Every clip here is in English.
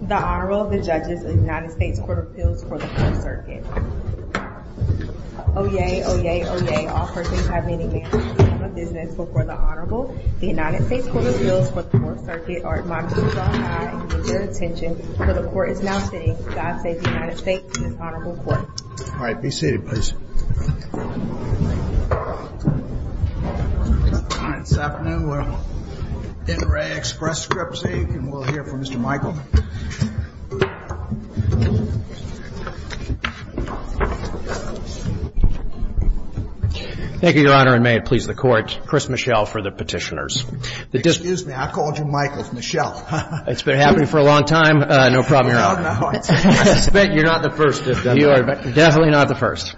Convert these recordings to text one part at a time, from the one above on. The Honorable, the Judges of the United States Court of Appeals for the 4th Circuit. Oyez, oyez, oyez, all persons have the right to remain silent at this time of business before the Honorable. The United States Court of Appeals for the 4th Circuit are admonished to stand by and give their attention, for the Court is now sitting. God save the United States and this Honorable Court. All right, be seated please. This afternoon we're in re Express Scripts, Inc., and we'll hear from Mr. Michael. Thank you, Your Honor, and may it please the Court. Chris Michel for the Petitioners. Excuse me, I called you Michael. It's Michel. It's been happening for a long time. No problem, Your Honor. No, no. I suspect you're not the first. You are definitely not the first.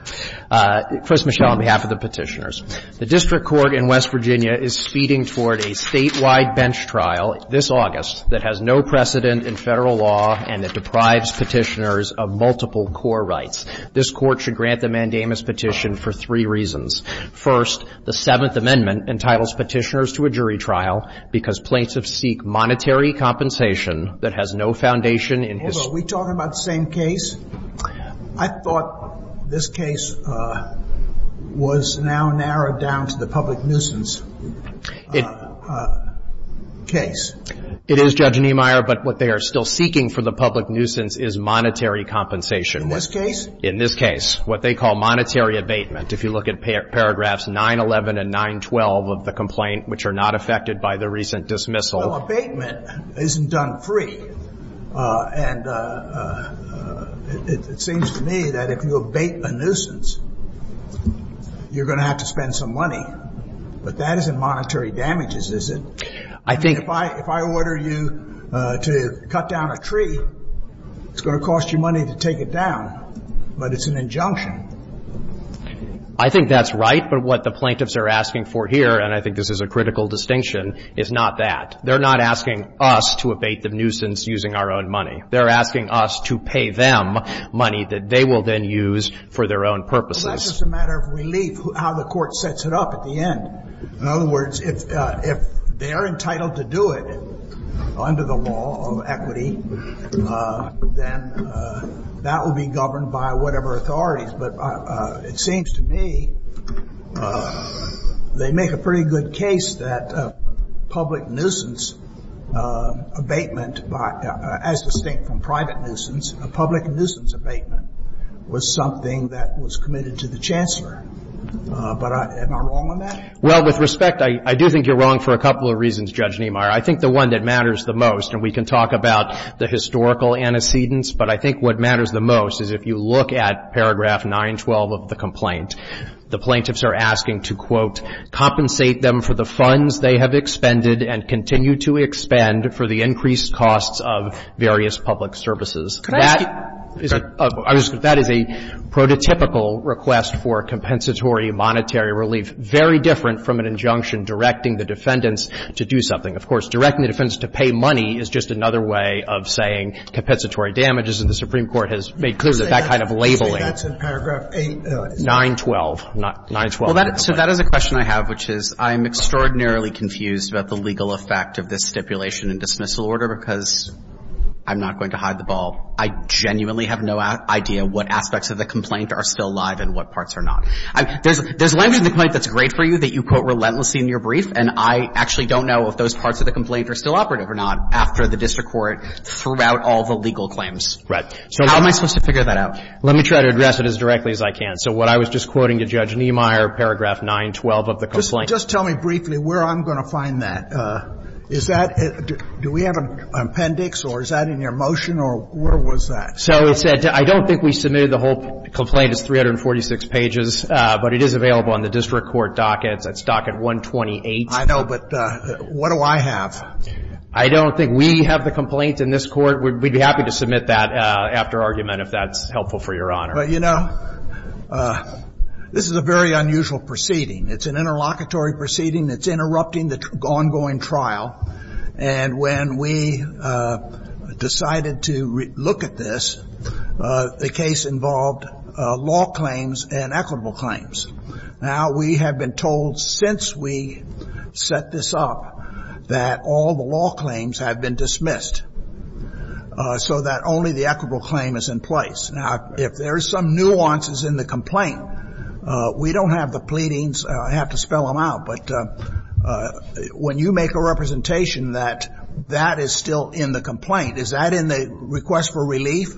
First, Michel, on behalf of the Petitioners. The district court in West Virginia is speeding toward a statewide bench trial this August that has no precedent in Federal law and that deprives Petitioners of multiple core rights. This Court should grant the mandamus petition for three reasons. First, the Seventh Amendment entitles Petitioners to a jury trial because plaintiffs seek monetary compensation that has no foundation in his. Are we talking about the same case? I thought this case was now narrowed down to the public nuisance case. It is, Judge Niemeyer, but what they are still seeking for the public nuisance is monetary compensation. In this case? In this case. What they call monetary abatement. If you look at paragraphs 911 and 912 of the complaint, which are not affected by the recent dismissal. Well, abatement isn't done free, and it seems to me that if you abate a nuisance, you're going to have to spend some money. But that isn't monetary damages, is it? I think. If I order you to cut down a tree, it's going to cost you money to take it down, but it's an injunction. I think that's right, but what the plaintiffs are asking for here, and I think this is a critical distinction, is not that. They're not asking us to abate the nuisance using our own money. They're asking us to pay them money that they will then use for their own purposes. That's just a matter of relief, how the court sets it up at the end. In other words, if they are entitled to do it under the law of equity, then that will be governed by whatever authorities. But it seems to me they make a pretty good case that public nuisance abatement as distinct from private nuisance, a public nuisance abatement was something that was committed to the Chancellor. But am I wrong on that? Well, with respect, I do think you're wrong for a couple of reasons, Judge Niemeyer. I think the one that matters the most, and we can talk about the historical antecedents, but I think what matters the most is if you look at paragraph 912 of the complaint, the plaintiffs are asking to, quote, compensate them for the funds they have expended and continue to expend for the increased costs of various public services. That is a prototypical request for compensatory monetary relief, very different from an injunction directing the defendants to do something. Of course, directing the defendants to pay money is just another way of saying compensatory damages. And the Supreme Court has made clear that that kind of labeling. That's in paragraph 8. 912. 912 of the complaint. Well, so that is a question I have, which is I am extraordinarily confused about the legal effect of this stipulation and dismissal order because I'm not going to hide the ball. I genuinely have no idea what aspects of the complaint are still alive and what parts are not. There's language in the complaint that's great for you that you quote relentlessly in your brief, and I actually don't know if those parts of the complaint are still operative or not after the district court threw out all the legal claims. So how am I supposed to figure that out? Let me try to address it as directly as I can. So what I was just quoting to Judge Niemeyer, paragraph 912 of the complaint. Just tell me briefly where I'm going to find that. Is that at the do we have an appendix or is that in your motion or where was that? So it said I don't think we submitted the whole complaint. It's 346 pages, but it is available on the district court docket. It's at docket 128. I know, but what do I have? I don't think we have the complaint in this court. We'd be happy to submit that after argument if that's helpful for Your Honor. Well, you know, this is a very unusual proceeding. It's an interlocutory proceeding. It's interrupting the ongoing trial. And when we decided to look at this, the case involved law claims and equitable claims. Now, we have been told since we set this up that all the law claims have been dismissed so that only the equitable claim is in place. Now, if there's some nuances in the complaint, we don't have the pleadings. I have to spell them out. But when you make a representation that that is still in the complaint, is that in the request for relief?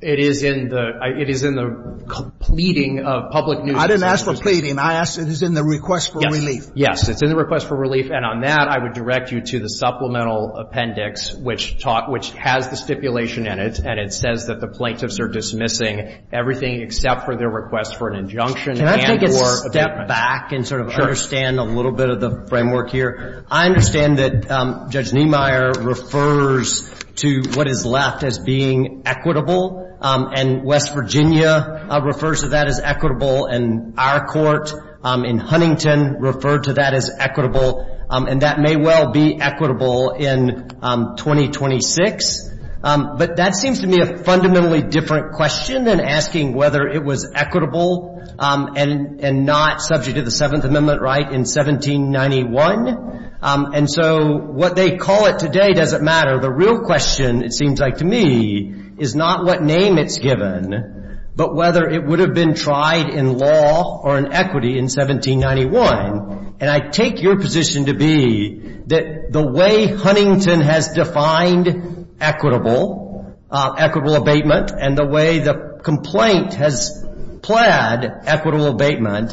It is in the pleading of public news agencies. I didn't ask for pleading. I asked if it was in the request for relief. Yes. It's in the request for relief. And on that, I would direct you to the supplemental appendix, which has the stipulation in it, and it says that the plaintiffs are dismissing everything except for their request for an injunction. Can I take a step back and sort of understand a little bit of the framework here? I understand that Judge Niemeyer refers to what is left as being equitable, and West Virginia refers to that as equitable, and our court in Huntington referred to that as equitable, and that may well be equitable in 2026. But that seems to me a fundamentally different question than asking whether it was equitable and not subject to the Seventh Amendment right in 1791. And so what they call it today doesn't matter. The real question, it seems like to me, is not what name it's given, but whether it would have been tried in law or in equity in 1791. And I take your position to be that the way Huntington has defined equitable, equitable abatement, and the way the complaint has plaid equitable abatement,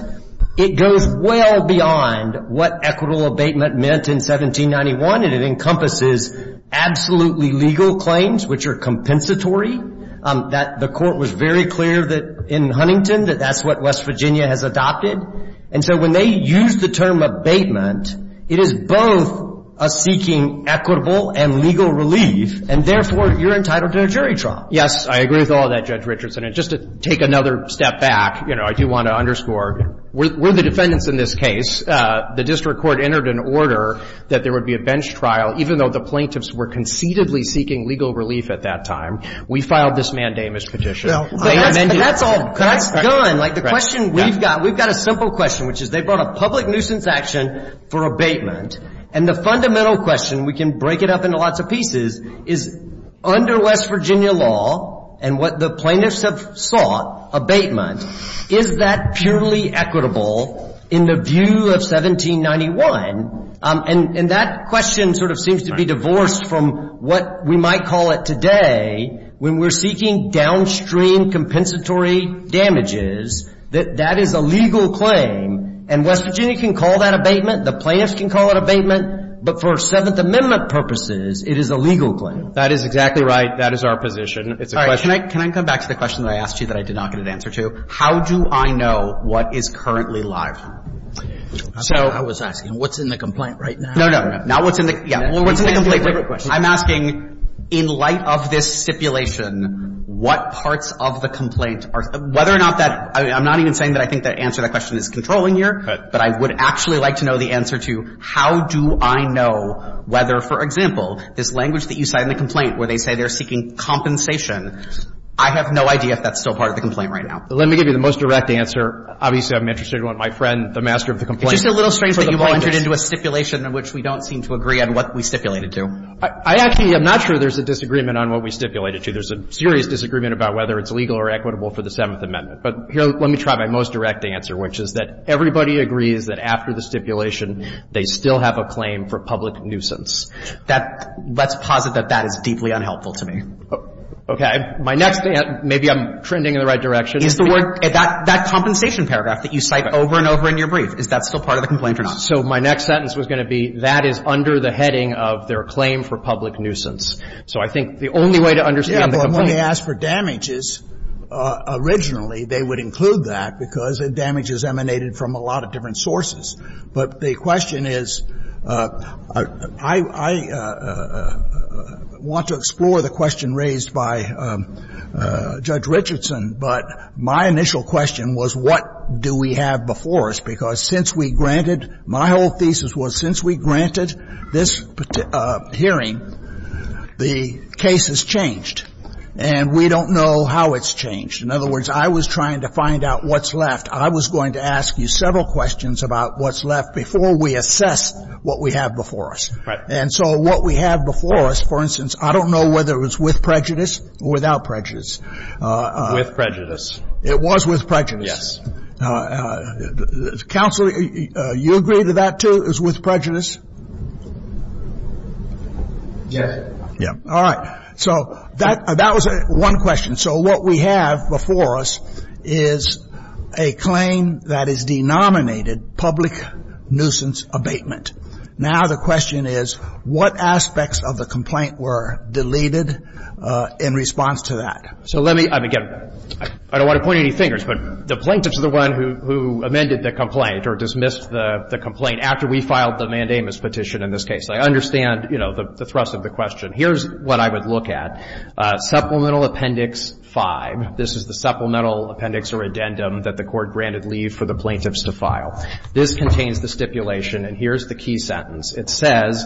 it goes well beyond what equitable abatement meant in 1791, and it encompasses absolutely legal claims, which are compensatory. That the court was very clear that in Huntington that that's what West Virginia has adopted. And so when they use the term abatement, it is both a seeking equitable and legal relief, and therefore, you're entitled to a jury trial. Yes, I agree with all of that, Judge Richardson. And just to take another step back, you know, I do want to underscore, we're the defendants in this case. The district court entered an order that there would be a bench trial, even though the plaintiffs were concededly seeking legal relief at that time. We filed this mandamus petition. No. But that's all gone. Like, the question we've got, we've got a simple question, which is they brought a public nuisance action for abatement. And the fundamental question, we can break it up into lots of pieces, is under West Virginia, the plaintiffs have sought abatement. Is that purely equitable in the view of 1791? And that question sort of seems to be divorced from what we might call it today when we're seeking downstream compensatory damages, that that is a legal claim. And West Virginia can call that abatement. The plaintiffs can call it abatement. But for Seventh Amendment purposes, it is a legal claim. That is exactly right. That is our position. It's a question. Can I come back to the question that I asked you that I did not get an answer to? How do I know what is currently live? So — I was asking, what's in the complaint right now? No, no. Not what's in the — yeah. What's in the complaint? I'm asking, in light of this stipulation, what parts of the complaint are — whether or not that — I'm not even saying that I think the answer to that question is controlling here. But I would actually like to know the answer to how do I know whether, for example, this language that you cite in the complaint where they say they're seeking compensation, I have no idea if that's still part of the complaint right now. Let me give you the most direct answer. Obviously, I'm interested in what my friend, the master of the complaint — It's just a little strange that you've entered into a stipulation in which we don't seem to agree on what we stipulated to. I actually am not sure there's a disagreement on what we stipulated to. There's a serious disagreement about whether it's legal or equitable for the Seventh Amendment. But here, let me try my most direct answer, which is that everybody agrees that after the stipulation, they still have a claim for public nuisance. That — let's posit that that is deeply unhelpful to me. My next — maybe I'm trending in the right direction. Is the word — that compensation paragraph that you cite over and over in your brief, is that still part of the complaint or not? So my next sentence was going to be that is under the heading of their claim for public nuisance. So I think the only way to understand the complaint — Yeah, but when they ask for damages, originally, they would include that because damages emanated from a lot of different sources. But the question is — I want to explore the question raised by Judge Richardson, but my initial question was what do we have before us, because since we granted — my whole thesis was since we granted this hearing, the case has changed, and we don't know how it's changed. In other words, I was trying to find out what's left. I was going to ask you several questions about what's left before we assess what we have before us. And so what we have before us, for instance, I don't know whether it was with prejudice or without prejudice. With prejudice. It was with prejudice. Yes. Counsel, you agree that that, too, is with prejudice? Yes. All right. So that was one question. And so what we have before us is a claim that is denominated public nuisance abatement. Now the question is what aspects of the complaint were deleted in response to that? So let me — I mean, again, I don't want to point any fingers, but the plaintiffs are the ones who amended the complaint or dismissed the complaint after we filed the mandamus petition in this case. I understand, you know, the thrust of the question. Here's what I would look at. Supplemental Appendix 5. This is the supplemental appendix or addendum that the Court granted leave for the plaintiffs to file. This contains the stipulation, and here's the key sentence. It says,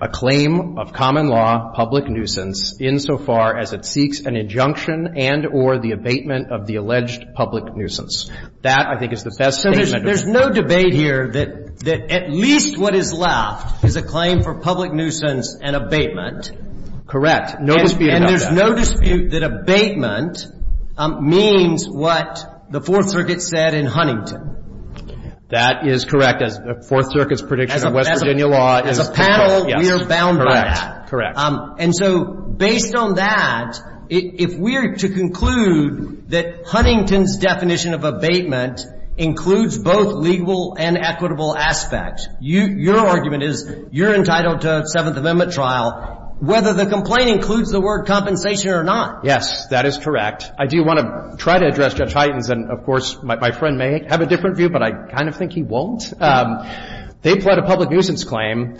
A claim of common law, public nuisance, insofar as it seeks an injunction and or the abatement of the alleged public nuisance. That, I think, is the best statement. So there's no debate here that at least what is left is a claim for public nuisance and abatement. Correct. No dispute about that. And there's no dispute that abatement means what the Fourth Circuit said in Huntington. That is correct. As the Fourth Circuit's prediction of West Virginia law is correct. As a panel, we are bound by that. Correct. Correct. And so based on that, if we are to conclude that Huntington's definition of abatement includes both legal and equitable aspects, your argument is you're entitled to a Seventh Circuit ruling on whether the complaint includes the word compensation or not. Yes, that is correct. I do want to try to address Judge Hyten's. And, of course, my friend may have a different view, but I kind of think he won't. They pled a public nuisance claim.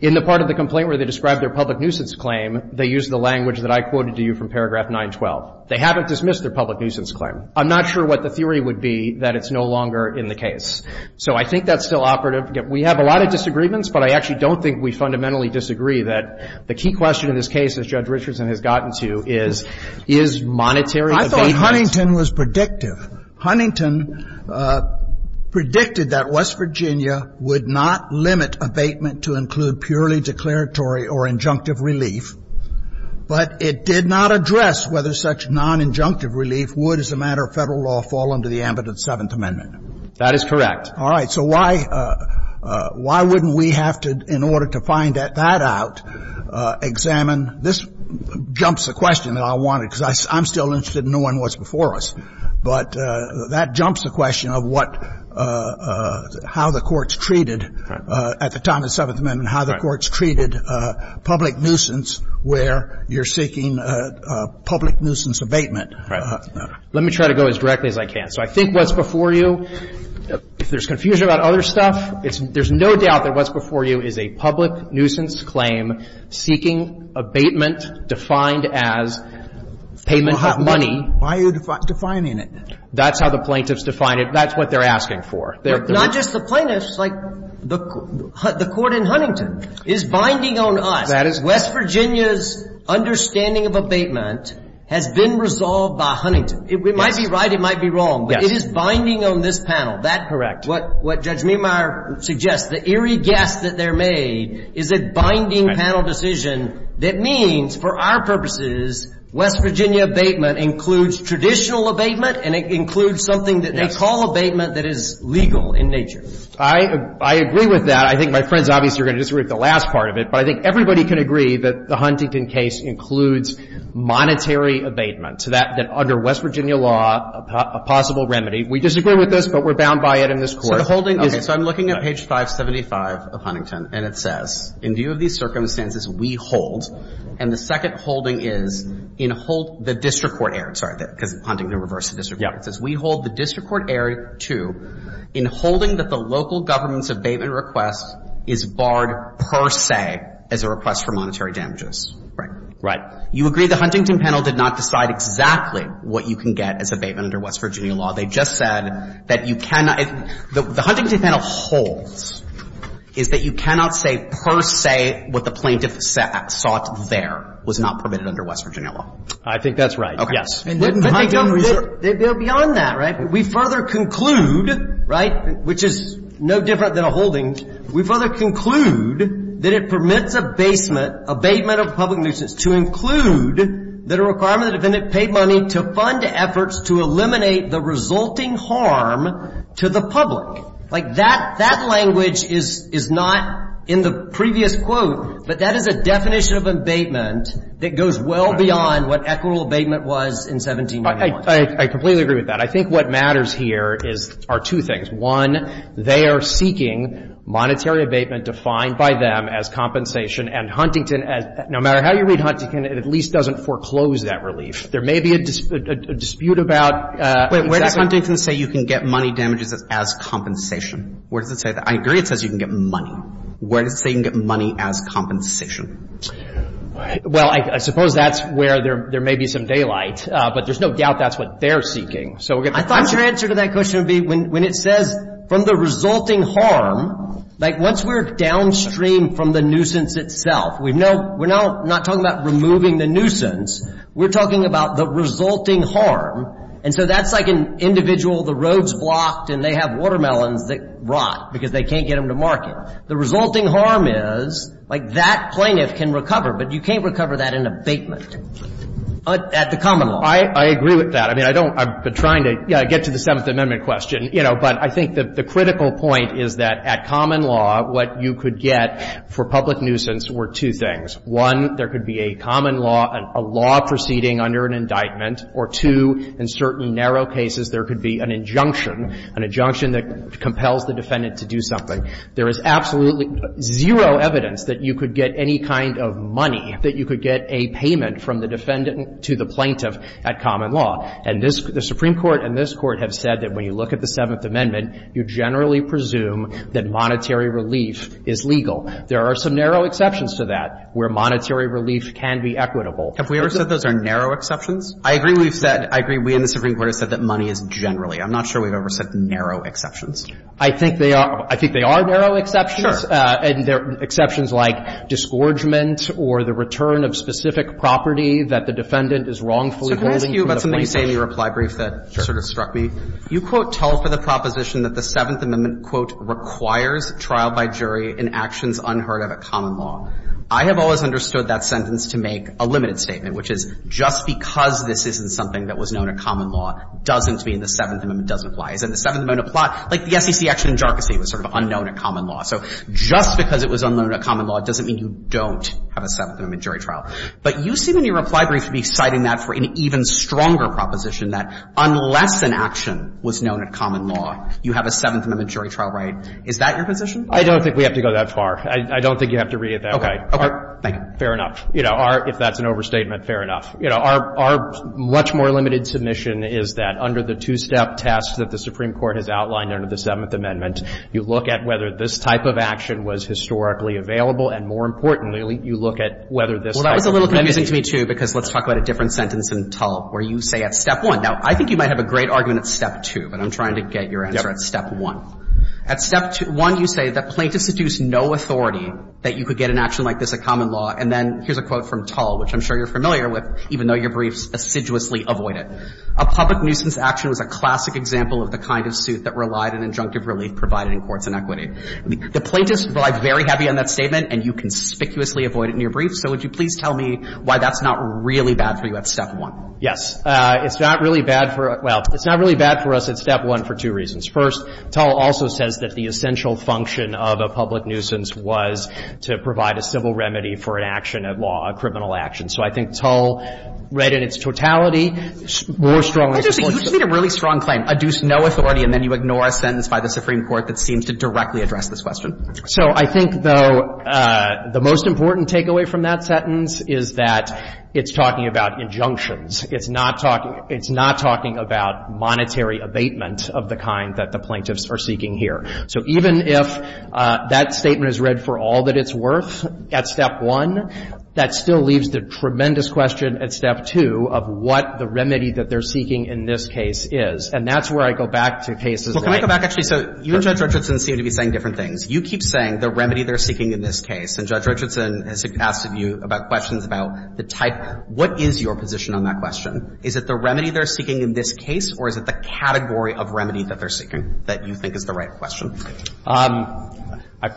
In the part of the complaint where they described their public nuisance claim, they used the language that I quoted to you from paragraph 912. They haven't dismissed their public nuisance claim. I'm not sure what the theory would be that it's no longer in the case. So I think that's still operative. I forget. We have a lot of disagreements, but I actually don't think we fundamentally disagree that the key question in this case, as Judge Richardson has gotten to, is, is monetary abatement. I thought Huntington was predictive. Huntington predicted that West Virginia would not limit abatement to include purely declaratory or injunctive relief, but it did not address whether such non-injunctive relief would, as a matter of Federal law, fall under the ambit of the Seventh Amendment. That is correct. All right. So why — why wouldn't we have to, in order to find that out, examine — this jumps the question that I wanted, because I'm still interested in knowing what's before us, but that jumps the question of what — how the Court's treated, at the time of the Seventh Amendment, how the Court's treated public nuisance where you're seeking public nuisance abatement. Right. Let me try to go as directly as I can. So I think what's before you, if there's confusion about other stuff, it's — there's no doubt that what's before you is a public nuisance claim seeking abatement defined as payment of money. Why are you defining it? That's how the plaintiffs define it. That's what they're asking for. They're — Not just the plaintiffs. Like, the Court in Huntington is binding on us. That is — West Virginia's understanding of abatement has been resolved by Huntington. Yes. It might be right. It might be wrong. But it is binding on this panel. That — What Judge Meemeyer suggests, the eerie guess that they're made is a binding panel decision that means, for our purposes, West Virginia abatement includes traditional abatement and it includes something that they call abatement that is legal in nature. I agree with that. I think my friends obviously are going to disagree with the last part of it, but I think everybody can agree that the Huntington case includes monetary abatement, that under West Virginia law, a possible remedy. We disagree with this, but we're bound by it in this Court. So the holding is — Okay. So I'm looking at page 575 of Huntington, and it says, In view of these circumstances, we hold — and the second holding is, in hold — the district court erred. Sorry, because Huntington reversed the district court. It says, We hold the district court erred to, in holding that the local government's abatement is barred per se as a request for monetary damages. Right. You agree the Huntington panel did not decide exactly what you can get as abatement under West Virginia law. They just said that you cannot — the Huntington panel holds is that you cannot say per se what the plaintiff sought there was not permitted under West Virginia law. I think that's right. Okay. Yes. And the Huntington — They go beyond that, right? We further conclude, right, which is no different than a holding. We further conclude that it permits abatement of public nuisance to include that a requirement of the defendant paid money to fund efforts to eliminate the resulting harm to the public. Like, that language is not in the previous quote, but that is a definition of abatement that goes well beyond what equitable abatement was in 1791. I completely agree with that. I think what matters here is — are two things. One, they are seeking monetary abatement defined by them as compensation, and Huntington — no matter how you read Huntington, it at least doesn't foreclose that relief. There may be a dispute about — Wait. Where does Huntington say you can get money damages as compensation? Where does it say that? I agree it says you can get money. Where does it say you can get money as compensation? Well, I suppose that's where there may be some daylight, but there's no doubt that's what they're seeking. I thought your answer to that question would be when it says from the resulting harm, like, once we're downstream from the nuisance itself, we're now not talking about removing the nuisance. We're talking about the resulting harm. And so that's like an individual, the road's blocked and they have watermelons that rot because they can't get them to market. The resulting harm is, like, that plaintiff can recover, but you can't recover that in abatement at the common law. I agree with that. I mean, I don't — I've been trying to get to the Seventh Amendment question. You know, but I think that the critical point is that at common law, what you could get for public nuisance were two things. One, there could be a common law, a law proceeding under an indictment, or two, in certain narrow cases, there could be an injunction, an injunction that compels the defendant to do something. There is absolutely zero evidence that you could get any kind of money, that you could get a payment from the defendant to the plaintiff at common law. And this — the Supreme Court and this Court have said that when you look at the Seventh Amendment, you generally presume that monetary relief is legal. There are some narrow exceptions to that where monetary relief can be equitable. Have we ever said those are narrow exceptions? I agree we've said — I agree we in the Supreme Court have said that money is generally. I'm not sure we've ever said narrow exceptions. I think they are. I think they are narrow exceptions. Sure. And there are exceptions like disgorgement or the return of specific property that the defendant is wrongfully holding from the plaintiff. So can I ask you about something you say in your reply brief that sort of struck me? Sure. You, quote, tell for the proposition that the Seventh Amendment, quote, requires trial by jury in actions unheard of at common law. I have always understood that sentence to make a limited statement, which is just because this isn't something that was known at common law doesn't mean the Seventh Amendment doesn't apply. Isn't the Seventh Amendment a plot? Like the SEC action in jarczy was sort of unknown at common law. So just because it was unknown at common law doesn't mean you don't have a Seventh Amendment jury trial. But you seem in your reply brief to be citing that for an even stronger proposition that unless an action was known at common law, you have a Seventh Amendment jury trial right. Is that your position? I don't think we have to go that far. I don't think you have to read it that way. Okay. Thank you. Fair enough. You know, our — if that's an overstatement, fair enough. You know, our — our much more limited submission is that under the two-step task that the Supreme Court has outlined under the Seventh Amendment, you look at whether this type of action was historically available. And more importantly, you look at whether this type of — Well, that was a little confusing to me, too, because let's talk about a different sentence in Tull, where you say at step one — now, I think you might have a great argument at step two, but I'm trying to get your answer at step one. At step one, you say that plaintiffs seduce no authority that you could get an action like this at common law. And then here's a quote from Tull, which I'm sure you're familiar with, even though your briefs assiduously avoid it. A public nuisance action is a classic example of the kind of suit that relied on injunctive relief provided in courts in equity. The plaintiffs rely very heavily on that statement, and you conspicuously avoid it in your briefs. So would you please tell me why that's not really bad for you at step one? Yes. It's not really bad for — well, it's not really bad for us at step one for two reasons. First, Tull also says that the essential function of a public nuisance was to provide a civil remedy for an action at law, a criminal action. So I think Tull, read in its totality, more strongly supports the — You just made a really strong claim, adduce no authority, and then you ignore a sentence by the Supreme Court that seems to directly address this question. So I think, though, the most important takeaway from that sentence is that it's talking about injunctions. It's not talking — it's not talking about monetary abatement of the kind that the plaintiffs are seeking here. So even if that statement is read for all that it's worth at step one, that still leaves the tremendous question at step two of what the remedy that they're seeking in this case is. And that's where I go back to cases like — Well, can I go back, actually? So you and Judge Richardson seem to be saying different things. You keep saying the remedy they're seeking in this case, and Judge Richardson has asked of you about questions about the type. What is your position on that question? Is it the remedy they're seeking in this case, or is it the category of remedy that they're seeking that you think is the right question?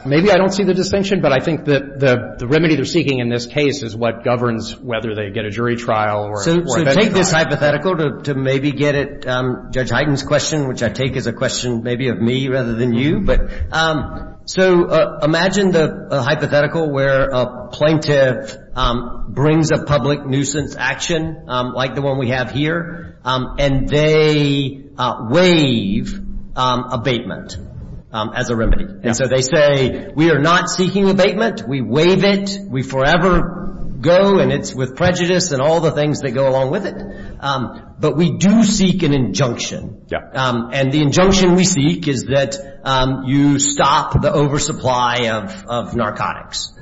Maybe I don't see the distinction, but I think that the remedy they're seeking in this case is what governs whether they get a jury trial or — So take this hypothetical to maybe get at Judge Heiden's question, which I take as a question maybe of me rather than you. But so imagine the hypothetical where a plaintiff brings a public nuisance action like the one we have here, and they waive abatement as a remedy. And so they say, we are not seeking abatement. We waive it. We forever go, and it's with prejudice and all the things that go along with it. But we do seek an injunction. Yeah. And the injunction we seek is that you stop the oversupply of narcotics.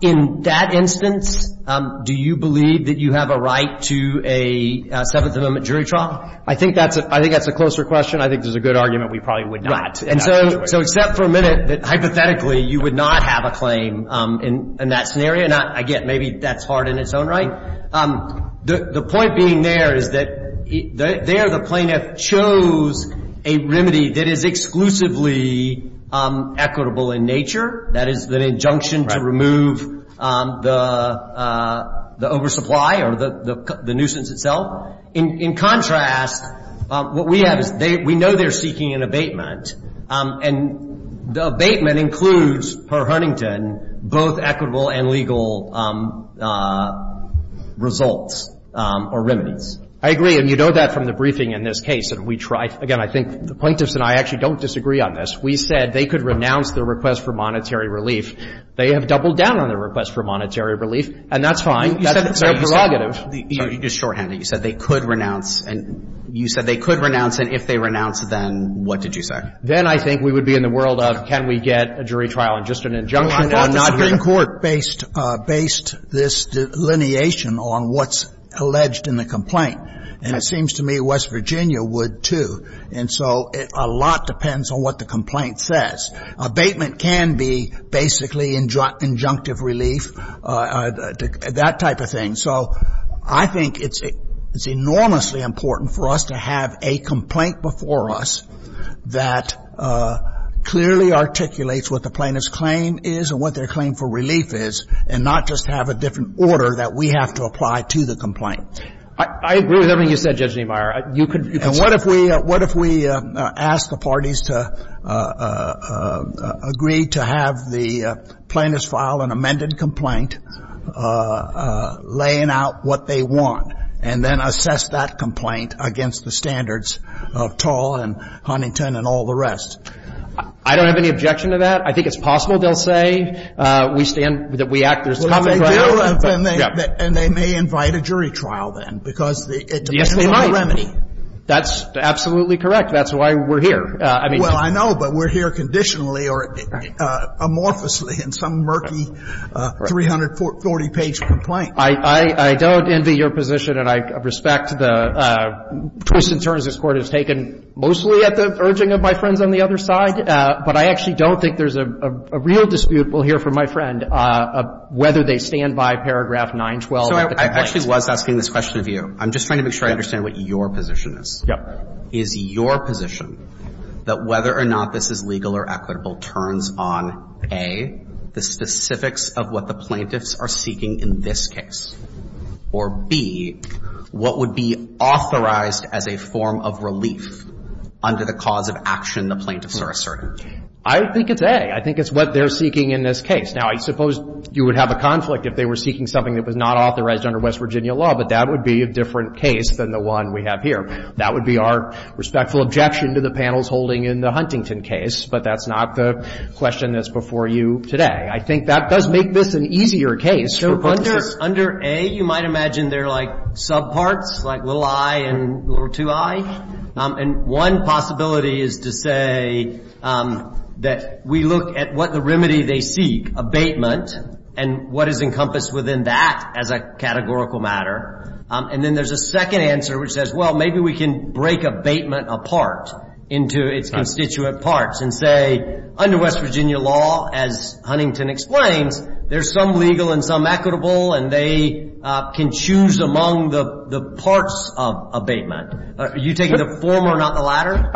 In that instance, do you believe that you have a right to a Seventh Amendment jury trial? I think that's a closer question. I think that's a good argument. We probably would not. And so except for a minute that hypothetically you would not have a claim in that scenario, and I get maybe that's hard in its own right. The point being there is that there the plaintiff chose a remedy that is exclusively equitable in nature, that is, an injunction to remove the oversupply or the nuisance itself. In contrast, what we have is we know they're seeking an abatement, and the abatement includes, per Huntington, both equitable and legal results or remedies. I agree. And you know that from the briefing in this case. Again, I think the plaintiffs and I actually don't disagree on this. We said they could renounce their request for monetary relief. They have doubled down on their request for monetary relief, and that's fine. That's their prerogative. Just shorthand it. You said they could renounce. And you said they could renounce. And if they renounce, then what did you say? Then I think we would be in the world of can we get a jury trial and just an injunction on that? Well, I'm not in court based this delineation on what's alleged in the complaint. And it seems to me West Virginia would, too. And so a lot depends on what the complaint says. Abatement can be basically injunctive relief, that type of thing. And so I think it's enormously important for us to have a complaint before us that clearly articulates what the plaintiff's claim is and what their claim for relief is, and not just have a different order that we have to apply to the complaint. I agree with everything you said, Judge Niemeyer. You could say that. And what if we asked the parties to agree to have the plaintiffs file an amended complaint, laying out what they want, and then assess that complaint against the standards of Tall and Huntington and all the rest? I don't have any objection to that. I think it's possible, they'll say, we stand, that we act, there's common ground. Well, if they do, then they may invite a jury trial then, because it depends on the remedy. That's absolutely correct. That's why we're here. Well, I know, but we're here conditionally or amorphously in some murky 340-page complaint. I don't envy your position, and I respect the twists and turns this Court has taken mostly at the urging of my friends on the other side, but I actually don't think there's a real dispute we'll hear from my friend whether they stand by paragraph 912 of the complaint. So I actually was asking this question of you. I'm just trying to make sure I understand what your position is. Yeah. My position is your position that whether or not this is legal or equitable turns on, A, the specifics of what the plaintiffs are seeking in this case, or, B, what would be authorized as a form of relief under the cause of action the plaintiffs are asserting? I think it's A. I think it's what they're seeking in this case. Now, I suppose you would have a conflict if they were seeking something that was not authorized under West Virginia law, but that would be a different case than the one we have here. That would be our respectful objection to the panels holding in the Huntington case, but that's not the question that's before you today. I think that does make this an easier case. So under A, you might imagine there are, like, subparts, like little i and little 2i, and one possibility is to say that we look at what the remedy they seek, abatement, and what is encompassed within that as a categorical matter. And then there's a second answer which says, well, maybe we can break abatement apart into its constituent parts and say, under West Virginia law, as Huntington explains, there's some legal and some equitable, and they can choose among the parts of abatement. Are you taking the former, not the latter?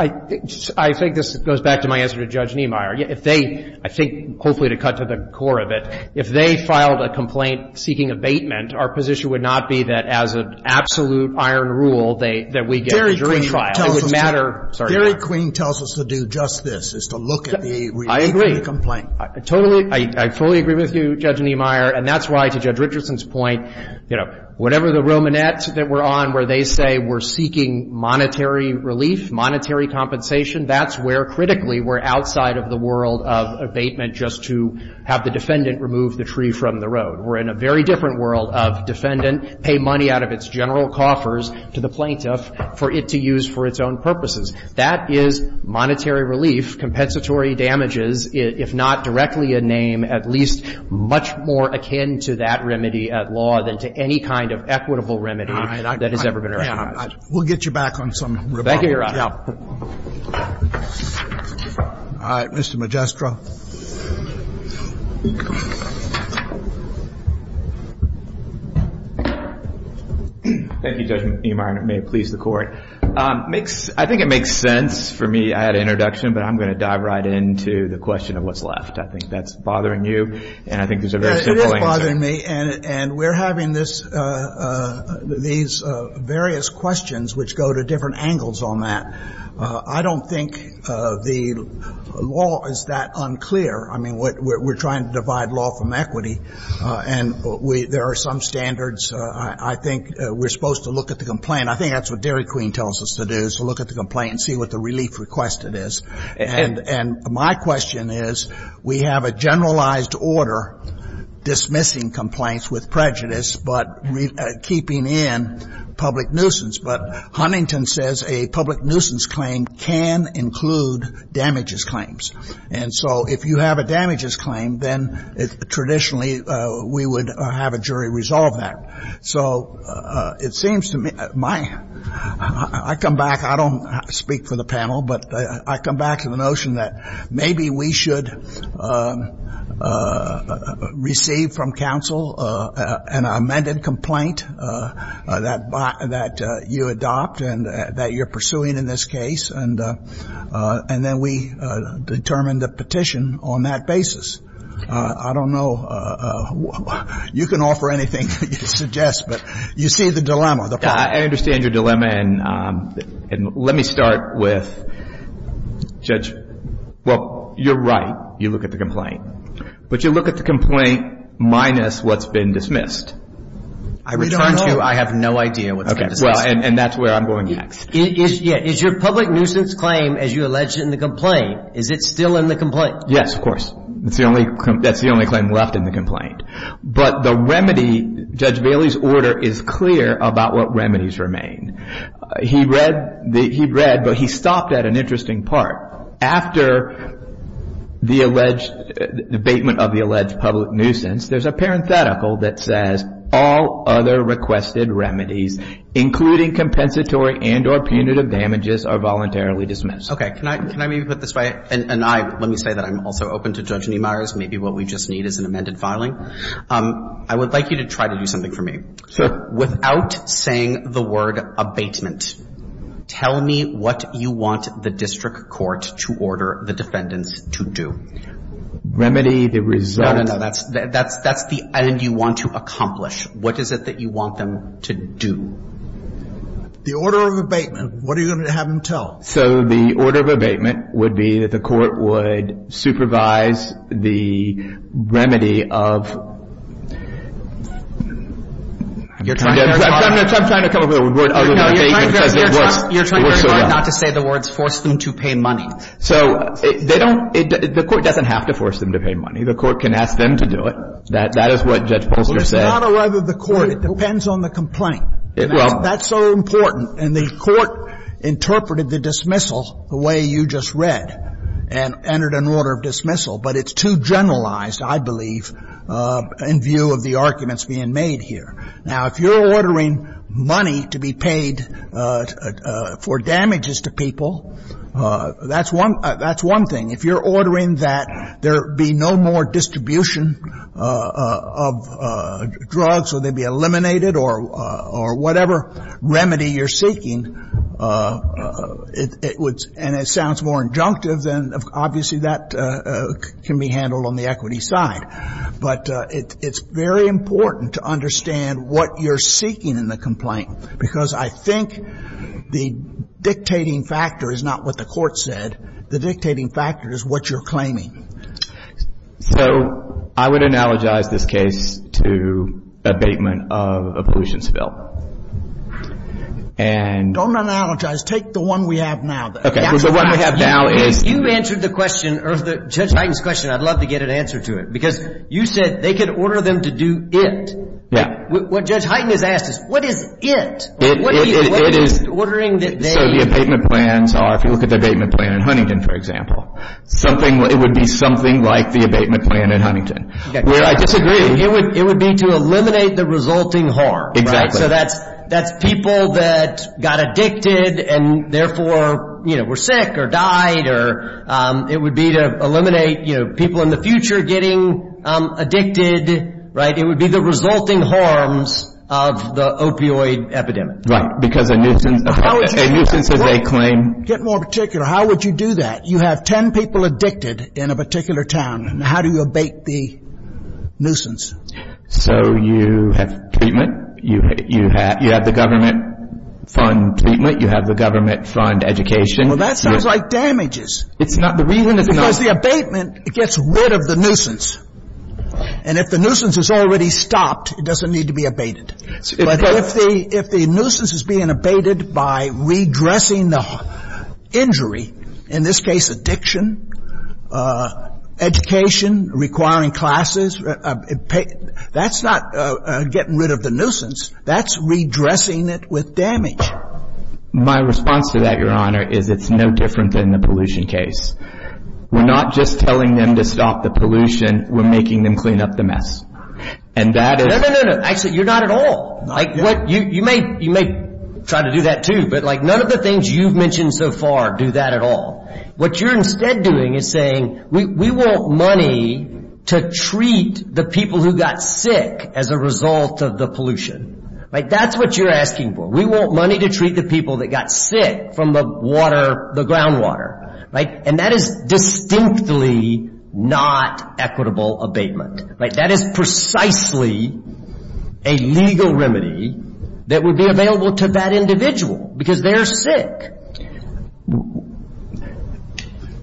I think this goes back to my answer to Judge Niemeyer. If they, I think, hopefully to cut to the core of it, if they filed a complaint seeking abatement, our position would not be that as an absolute iron rule that we get a jury trial. It would matter. I'm sorry, Your Honor. Darryl Queen tells us to do just this, is to look at the relief of the complaint. Totally. I fully agree with you, Judge Niemeyer. And that's why, to Judge Richardson's point, you know, whatever the Romanettes that we're on where they say we're seeking monetary relief, monetary compensation, that's where critically we're outside of the world of abatement just to have the defendant remove the tree from the road. We're in a very different world of defendant pay money out of its general coffers to the plaintiff for it to use for its own purposes. That is monetary relief, compensatory damages, if not directly a name, at least much more akin to that remedy at law than to any kind of equitable remedy that has ever been recommended. We'll get you back on some rebounds. Thank you, Your Honor. All right. Mr. Magistro. Thank you, Judge Niemeyer, and it may please the Court. I think it makes sense for me. I had an introduction, but I'm going to dive right into the question of what's left. I think that's bothering you, and I think there's a very simple answer. It is bothering me, and we're having these various questions which go to different angles on that. I don't think the law is that unclear. I mean, we're trying to divide law from equity, and there are some standards. I think we're supposed to look at the complaint. I think that's what Dairy Queen tells us to do, is to look at the complaint and see what the relief requested is. And my question is, we have a generalized order dismissing complaints with prejudice but keeping in public nuisance. But Huntington says a public nuisance claim can include damages claims. And so if you have a damages claim, then traditionally we would have a jury resolve that. So it seems to me my ‑‑ I come back. I don't speak for the panel, but I come back to the notion that maybe we should receive from counsel an amended complaint that you adopt and that you're pursuing in this case, and then we determine the petition on that basis. I don't know. You can offer anything that you suggest, but you see the dilemma. I understand your dilemma, and let me start with, Judge, well, you're right. You look at the complaint. But you look at the complaint minus what's been dismissed. I return to I have no idea what's been dismissed. And that's where I'm going next. Is your public nuisance claim, as you alleged in the complaint, is it still in the complaint? Yes, of course. That's the only claim left in the complaint. But the remedy, Judge Bailey's order is clear about what remedies remain. He read, but he stopped at an interesting part. After the abatement of the alleged public nuisance, there's a parenthetical that says all other requested remedies, including compensatory and or punitive damages, are voluntarily dismissed. Can I maybe put this way? And let me say that I'm also open to Judge Niemeyers. Maybe what we just need is an amended filing. I would like you to try to do something for me. Sure. Without saying the word abatement, tell me what you want the district court to order the defendants to do. Remedy the result. No, no, no. That's the end you want to accomplish. What is it that you want them to do? The order of abatement. What are you going to have them tell? So the order of abatement would be that the court would supervise the remedy of I'm trying to come up with a word other than abatement because it works so well. You're trying very hard not to say the words force them to pay money. So the court doesn't have to force them to pay money. The court can ask them to do it. That is what Judge Polsker said. Well, it's not a matter of the court. It depends on the complaint. That's so important. And the court interpreted the dismissal the way you just read and entered an order of dismissal. But it's too generalized, I believe, in view of the arguments being made here. Now, if you're ordering money to be paid for damages to people, that's one thing. If you're ordering that there be no more distribution of drugs, or they be eliminated or whatever remedy you're seeking, and it sounds more injunctive, then obviously that can be handled on the equity side. But it's very important to understand what you're seeking in the complaint because I think the dictating factor is not what the court said. The dictating factor is what you're claiming. So I would analogize this case to abatement of a pollution spill. Don't analogize. Take the one we have now. Okay. The one we have now is. You answered the question, or Judge Hyten's question. I'd love to get an answer to it because you said they could order them to do it. Yeah. What Judge Hyten has asked is, what is it? It is. What are you ordering that they... So the abatement plans are, if you look at the abatement plan in Huntington, for example, it would be something like the abatement plan in Huntington, where I disagree. It would be to eliminate the resulting harm. Exactly. So that's people that got addicted and, therefore, were sick or died. It would be to eliminate people in the future getting addicted. It would be the resulting harms of the opioid epidemic. Right, because a nuisance is a claim. Get more particular. How would you do that? You have 10 people addicted in a particular town. How do you abate the nuisance? So you have treatment. You have the government fund treatment. You have the government fund education. Well, that sounds like damages. It's not... Because the abatement, it gets rid of the nuisance. And if the nuisance is already stopped, it doesn't need to be abated. But if the nuisance is being abated by redressing the injury, in this case addiction, education, requiring classes, that's not getting rid of the nuisance. That's redressing it with damage. My response to that, Your Honor, is it's no different than the pollution case. We're not just telling them to stop the pollution. We're making them clean up the mess. And that is... No, no, no, no. Actually, you're not at all. You may try to do that, too. But, like, none of the things you've mentioned so far do that at all. What you're instead doing is saying we want money to treat the people who got sick as a result of the pollution. That's what you're asking for. We want money to treat the people that got sick from the water, the groundwater. And that is distinctly not equitable abatement. Right? That is precisely a legal remedy that would be available to that individual because they're sick.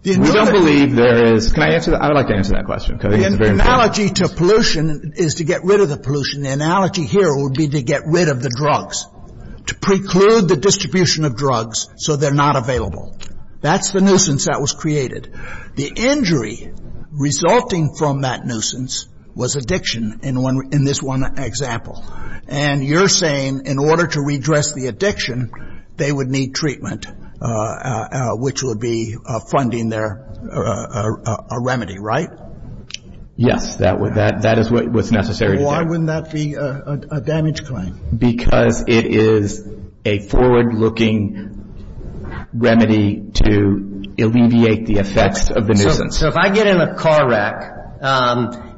We don't believe there is... Can I answer that? I would like to answer that question. The analogy to pollution is to get rid of the pollution. The analogy here would be to get rid of the drugs, to preclude the distribution of drugs so they're not available. That's the nuisance that was created. The injury resulting from that nuisance was addiction in this one example. And you're saying in order to redress the addiction, they would need treatment, which would be funding their remedy. Right? Yes. That is what's necessary. Why wouldn't that be a damage claim? Because it is a forward-looking remedy to alleviate the effects of the nuisance. So if I get in a car wreck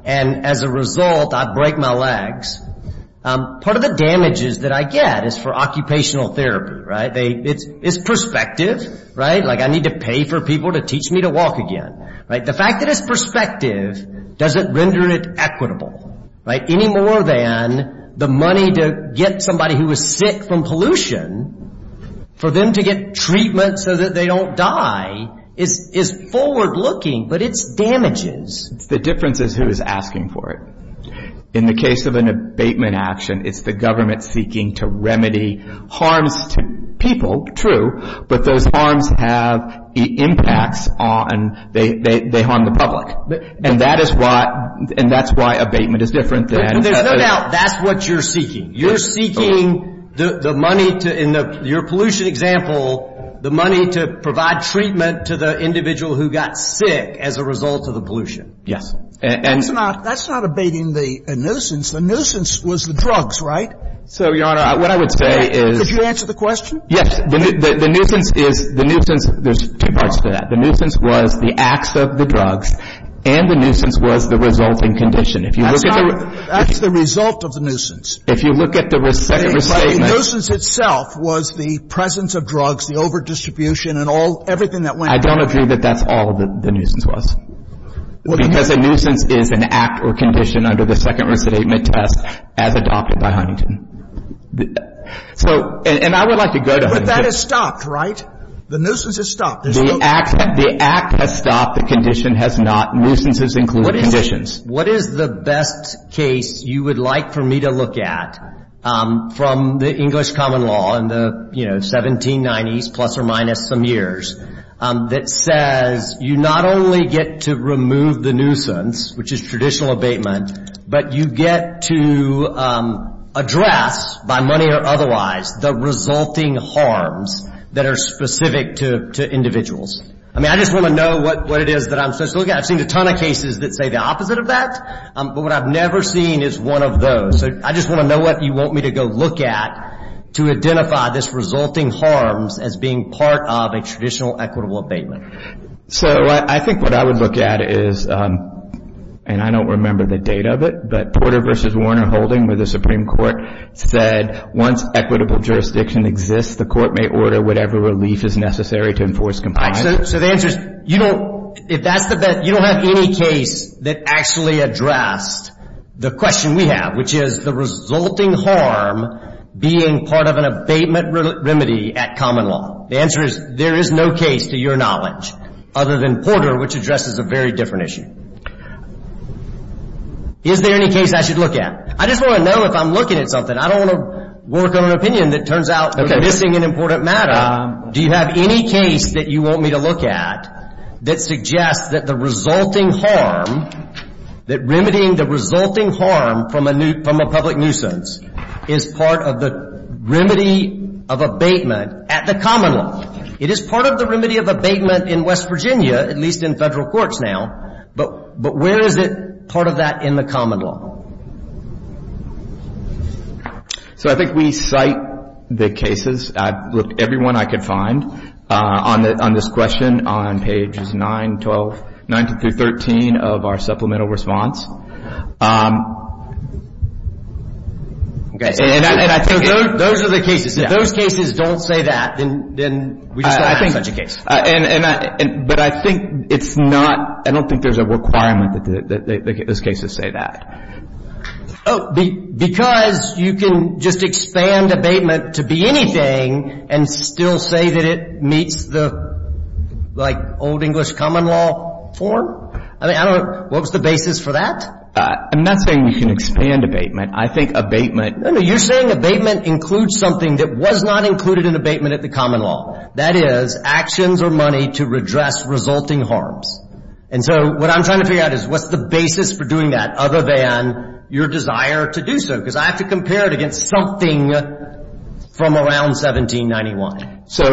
and as a result I break my legs, part of the damages that I get is for occupational therapy, right? It's perspective, right? Like I need to pay for people to teach me to walk again. The fact that it's perspective doesn't render it equitable, right? Any more than the money to get somebody who is sick from pollution, for them to get treatment so that they don't die is forward-looking, but it's damages. The difference is who is asking for it. In the case of an abatement action, it's the government seeking to remedy harms to people. But those harms have impacts on they harm the public. And that is why abatement is different than. There's no doubt that's what you're seeking. You're seeking the money to, in your pollution example, the money to provide treatment to the individual who got sick as a result of the pollution. Yes. That's not abating the nuisance. The nuisance was the drugs, right? So, Your Honor, what I would say is. Could you answer the question? Yes. The nuisance is the nuisance. There's two parts to that. The nuisance was the acts of the drugs and the nuisance was the resulting condition. If you look at the... That's not... That's the result of the nuisance. If you look at the second statement... The nuisance itself was the presence of drugs, the overdistribution and all, everything that went... I don't agree that that's all the nuisance was. Because a nuisance is an act or condition under the second recidivism test as adopted by Huntington. So... And I would like to go to Huntington. But that is stopped, right? The nuisance is stopped. The act has stopped. The condition has not. Nuisances include conditions. What is the best case you would like for me to look at from the English common law in the, you know, 1790s, plus or minus some years, that says you not only get to remove the nuisance, which is traditional abatement, but you get to address, by money or otherwise, the resulting harms that are specific to individuals. I mean, I just want to know what it is that I'm supposed to look at. I've seen a ton of cases that say the opposite of that, but what I've never seen is one of those. So, I just want to know what you want me to go look at to identify this resulting harms as being part of a traditional equitable abatement. So, I think what I would look at is, and I don't remember the date of it, but Porter v. Warner Holding, where the Supreme Court said once equitable jurisdiction exists, the court may order whatever relief is necessary to enforce compliance. So, the answer is, you don't have any case that actually addressed the question we have, which is the resulting harm being part of an abatement remedy at common law. The answer is, there is no case, to your knowledge, other than Porter, which addresses a very different issue. Is there any case I should look at? I just want to know if I'm looking at something. I don't want to work on an opinion that turns out to be missing an important matter. Do you have any case that you want me to look at that suggests that the resulting harm, that remedying the resulting harm from a public nuisance is part of the remedy of abatement at the common law? It is part of the remedy of abatement in West Virginia, at least in federal courts now, but where is it part of that in the common law? So, I think we cite the cases. I looked at every one I could find on this question on pages 9, 12, 19 through 13 of our supplemental response. Okay. And I think those are the cases. If those cases don't say that, then we just don't have such a case. But I think it's not, I don't think there's a requirement that those cases say that. Because you can just expand abatement to be anything and still say that it meets the, like, old English common law form? I mean, I don't know, what was the basis for that? I'm not saying you can expand abatement. I think abatement, no, no, you're saying abatement includes something that was not included in abatement at the common law. That is, actions or money to redress resulting harms. And so, what I'm trying to figure out is, what's the basis for doing that other than your desire to do so? Because I have to compare it against something from around 1791. So,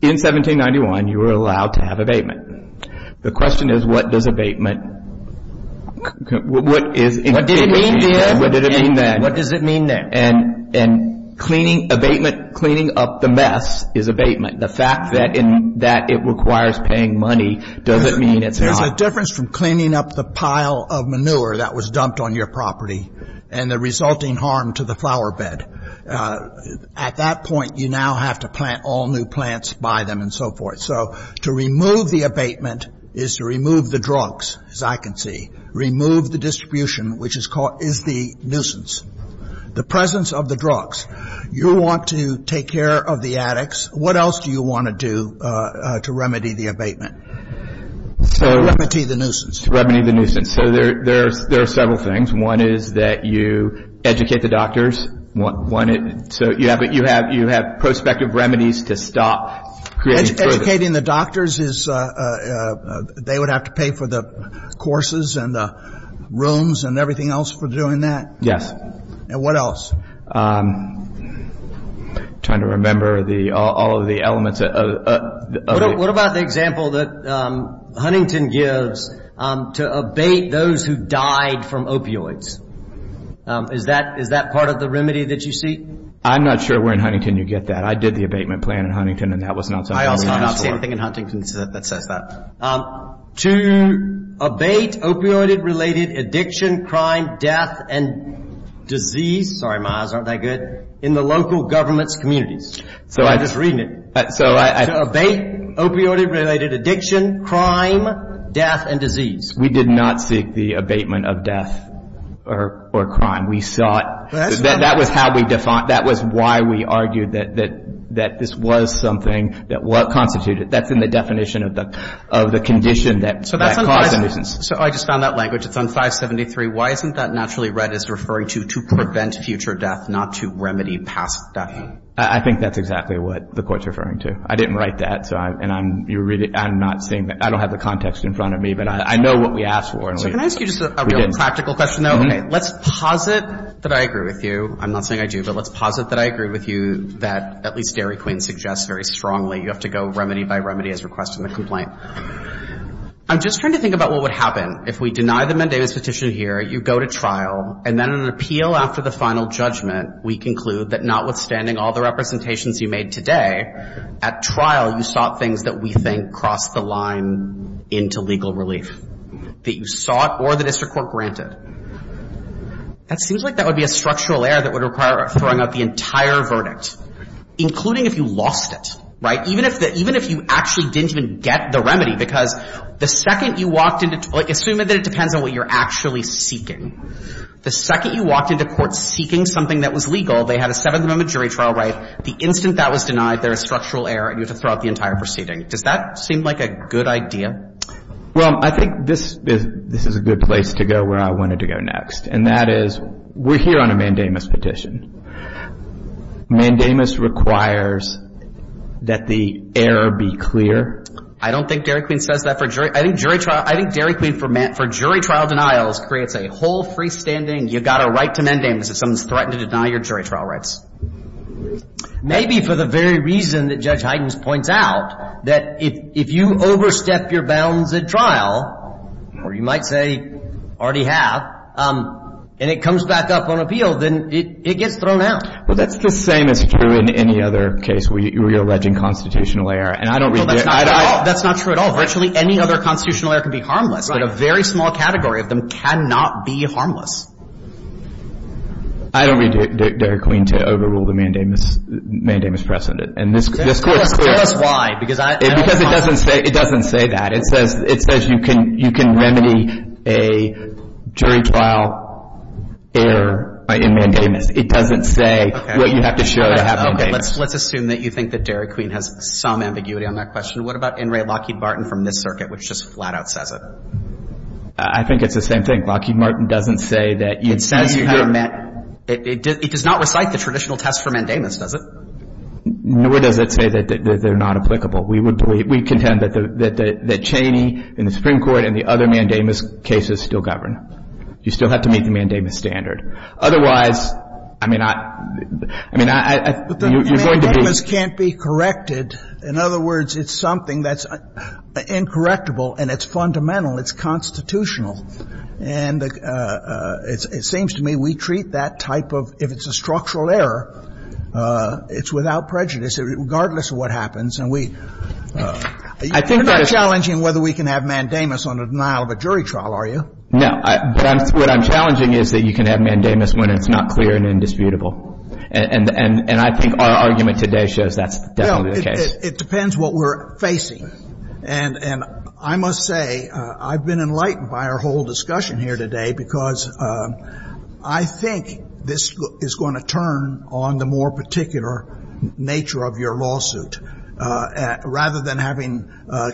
in 1791, you were allowed to have abatement. The question is, what does abatement, what is it? What did it mean there? What did it mean then? What does it mean there? And cleaning abatement, cleaning up the mess is abatement. The fact that it requires paying money doesn't mean it's not. There's a difference from cleaning up the pile of manure that was dumped on your property and the resulting harm to the flower bed. At that point, you now have to plant all new plants, buy them, and so forth. So, to remove the abatement is to remove the drugs, as I can see. Remove the distribution, which is the nuisance. The presence of the drugs. You want to take care of the addicts. What else do you want to do to remedy the abatement? To remedy the nuisance. To remedy the nuisance. So, there are several things. One is that you educate the doctors. So, you have prospective remedies to stop creating further. Educating the doctors is they would have to pay for the courses and the rooms and everything else for doing that? Yes. And what else? I'm trying to remember all of the elements. What about the example that Huntington gives to abate those who died from opioids? Is that part of the remedy that you see? I'm not sure where in Huntington you get that. I did the abatement plan in Huntington, and that was not something I asked for. I also don't see anything in Huntington that says that. To abate opioid-related addiction, crime, death, and disease. Sorry, Miles, aren't I good? In the local government's communities. I'm just reading it. To abate opioid-related addiction, crime, death, and disease. We did not seek the abatement of death or crime. That was why we argued that this was something that was constituted. That's in the definition of the condition that caused the nuisance. So I just found that language. It's on 573. Why isn't that naturally read as referring to to prevent future death, not to remedy past death? I think that's exactly what the Court's referring to. I didn't write that, and I'm not saying that. I don't have the context in front of me, but I know what we asked for. So can I ask you just a real practical question, though? Let's posit that I agree with you. I'm not saying I do, but let's posit that I agree with you that at least Dairy Queen suggests very strongly you have to go remedy by remedy as requested in the complaint. I'm just trying to think about what would happen if we deny the mendamus petition here, you go to trial, and then in an appeal after the final judgment, we conclude that notwithstanding all the representations you made today, at trial you sought things that we think crossed the line into legal relief, that you sought or the district court granted. It seems like that would be a structural error that would require throwing out the entire verdict, including if you lost it, right, even if you actually didn't even get the remedy, because the second you walked into — like, assume that it depends on what you're actually seeking. The second you walked into court seeking something that was legal, they had a Seventh Amendment jury trial right. The instant that was denied, there is structural error, and you have to throw out the entire proceeding. Does that seem like a good idea? Well, I think this is a good place to go where I wanted to go next, and that is we're here on a mendamus petition. Mendamus requires that the error be clear. I don't think Dairy Queen says that for jury — I think jury trial — I think Dairy Queen for jury trial denials creates a whole freestanding, you've got a right to mendamus if someone's threatened to deny your jury trial rights. Maybe for the very reason that Judge Hydens points out, that if you overstep your bounds at trial, or you might say already have, and it comes back up on appeal, then it gets thrown out. Well, that's the same as true in any other case where you're alleging constitutional error, and I don't read it. Well, that's not true at all. Virtually any other constitutional error can be harmless. Right. But a very small category of them cannot be harmless. I don't read Dairy Queen to overrule the mendamus precedent. And this Court — Tell us why, because I don't — Because it doesn't say that. It says you can remedy a jury trial error in mendamus. It doesn't say what you have to show to have mendamus. Let's assume that you think that Dairy Queen has some ambiguity on that question. What about in re Lockheed Martin from this circuit, which just flat out says it? I think it's the same thing. Lockheed Martin doesn't say that you — It says you have a — It does not recite the traditional test for mendamus, does it? Nor does it say that they're not applicable. We contend that Cheney and the Supreme Court and the other mendamus cases still govern. You still have to meet the mendamus standard. Otherwise, I mean, I — I mean, you're going to be — But the mendamus can't be corrected. In other words, it's something that's incorrectible, and it's fundamental. It's constitutional. And it seems to me we treat that type of — if it's a structural error, it's without prejudice, regardless of what happens. And we — I think that — You're not challenging whether we can have mendamus on the denial of a jury trial, are you? No. But what I'm challenging is that you can have mendamus when it's not clear and indisputable. And I think our argument today shows that's definitely the case. Well, it depends what we're facing. And I must say I've been enlightened by our whole discussion here today because I think this is going to turn on the more particular nature of your lawsuit. Rather than having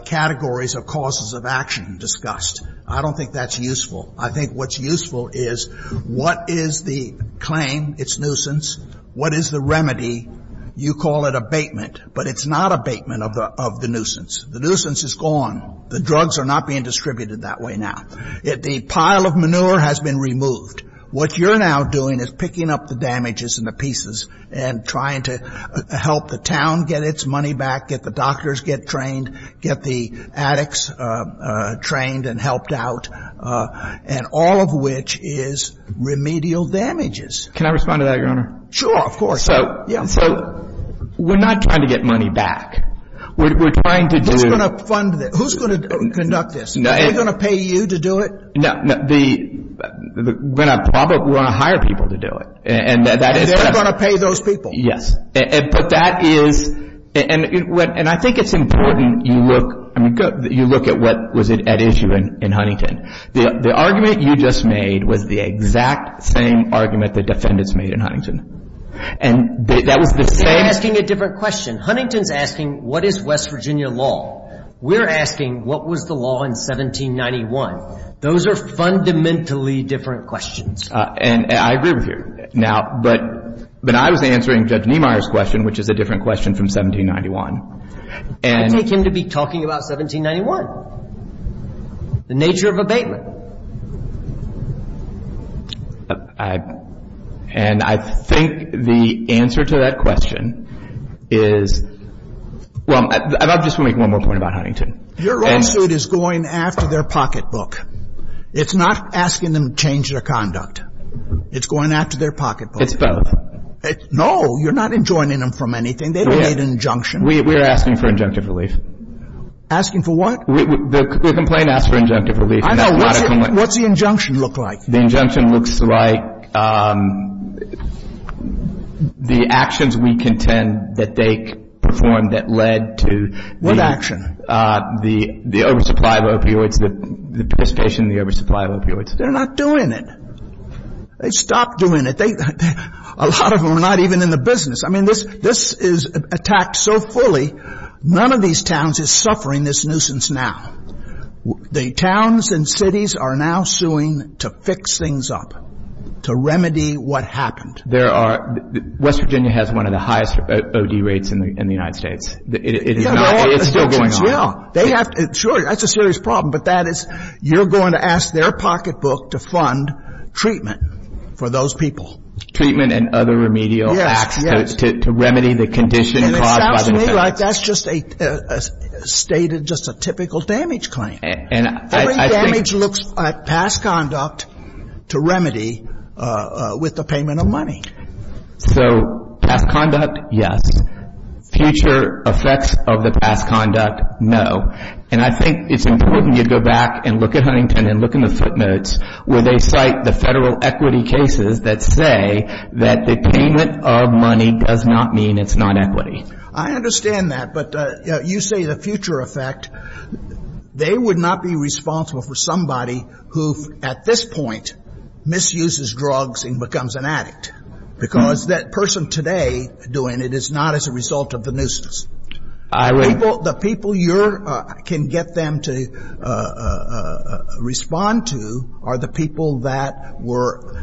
categories of causes of action discussed, I don't think that's useful. I think what's useful is what is the claim? It's nuisance. What is the remedy? You call it abatement, but it's not abatement of the — of the nuisance. The nuisance is gone. The drugs are not being distributed that way now. The pile of manure has been removed. What you're now doing is picking up the damages and the pieces and trying to help the town get its money back, get the doctors get trained, get the addicts trained and helped out, and all of which is remedial damages. Can I respond to that, Your Honor? Sure, of course. So — Yeah. So we're not trying to get money back. We're trying to do — Who's going to fund this? Who's going to conduct this? Are we going to pay you to do it? No. The — we're going to probably want to hire people to do it. And that is — And they're going to pay those people. Yes. But that is — and I think it's important you look — I mean, you look at what was at issue in Huntington. The argument you just made was the exact same argument the defendants made in Huntington. And that was the same — You're asking a different question. Huntington's asking what is West Virginia law. We're asking what was the law in 1791. Those are fundamentally different questions. And I agree with you. Now, but I was answering Judge Niemeyer's question, which is a different question from 1791. And — I take him to be talking about 1791, the nature of abatement. I — and I think the answer to that question is — well, I just want to make one more point about Huntington. Your lawsuit is going after their pocketbook. It's not asking them to change their conduct. It's going after their pocketbook. It's both. No. You're not enjoining them from anything. They've made an injunction. We are asking for injunctive relief. Asking for what? The complaint asks for injunctive relief. I know. What's the injunction look like? The injunction looks like the actions we contend that they performed that led to the — What action? The oversupply of opioids, the participation in the oversupply of opioids. They're not doing it. They stopped doing it. A lot of them are not even in the business. I mean, this is attacked so fully, none of these towns is suffering this nuisance now. The towns and cities are now suing to fix things up, to remedy what happened. There are — West Virginia has one of the highest O.D. rates in the United States. It's still going on. Sure. That's a serious problem. But that is, you're going to ask their pocketbook to fund treatment for those people. Treatment and other remedial acts to remedy the condition caused by the offense. And it sounds to me like that's just a stated, just a typical damage claim. And I think — Every damage looks at past conduct to remedy with the payment of money. So, past conduct, yes. Future effects of the past conduct, no. And I think it's important you go back and look at Huntington and look in the footnotes where they cite the federal equity cases that say that the payment of money does not mean it's not equity. I understand that. But, you know, you say the future effect. They would not be responsible for somebody who, at this point, misuses drugs and becomes an addict. Because that person today doing it is not as a result of the nuisance. I would — The people you can get them to respond to are the people that were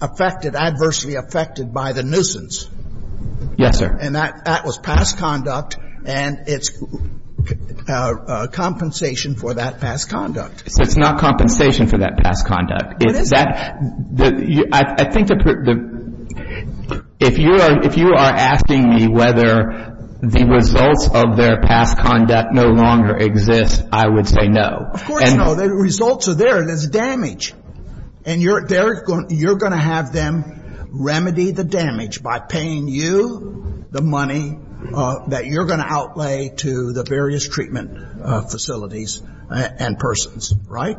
affected, adversely affected by the nuisance. Yes, sir. And that was past conduct, and it's compensation for that past conduct. It's not compensation for that past conduct. It is. I think if you are asking me whether the results of their past conduct no longer exist, I would say no. Of course, no. The results are there. There's damage. And you're going to have them remedy the damage by paying you the money that you're going to outlay to the various treatment facilities and persons. Right?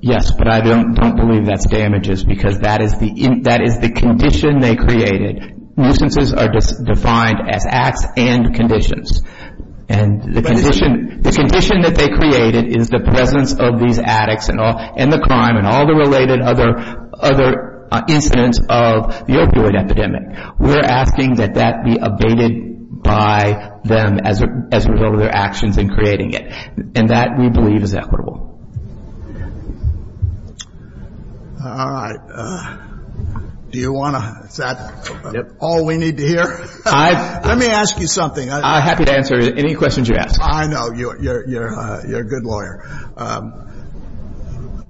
Yes, but I don't believe that's damages because that is the condition they created. Nuisances are defined as acts and conditions. And the condition that they created is the presence of these addicts and the crime and all the related other incidents of the opioid epidemic. We're asking that that be abated by them as a result of their actions in creating it. And that, we believe, is equitable. All right. Do you want to? Is that all we need to hear? Let me ask you something. I'm happy to answer any questions you ask. I know. You're a good lawyer.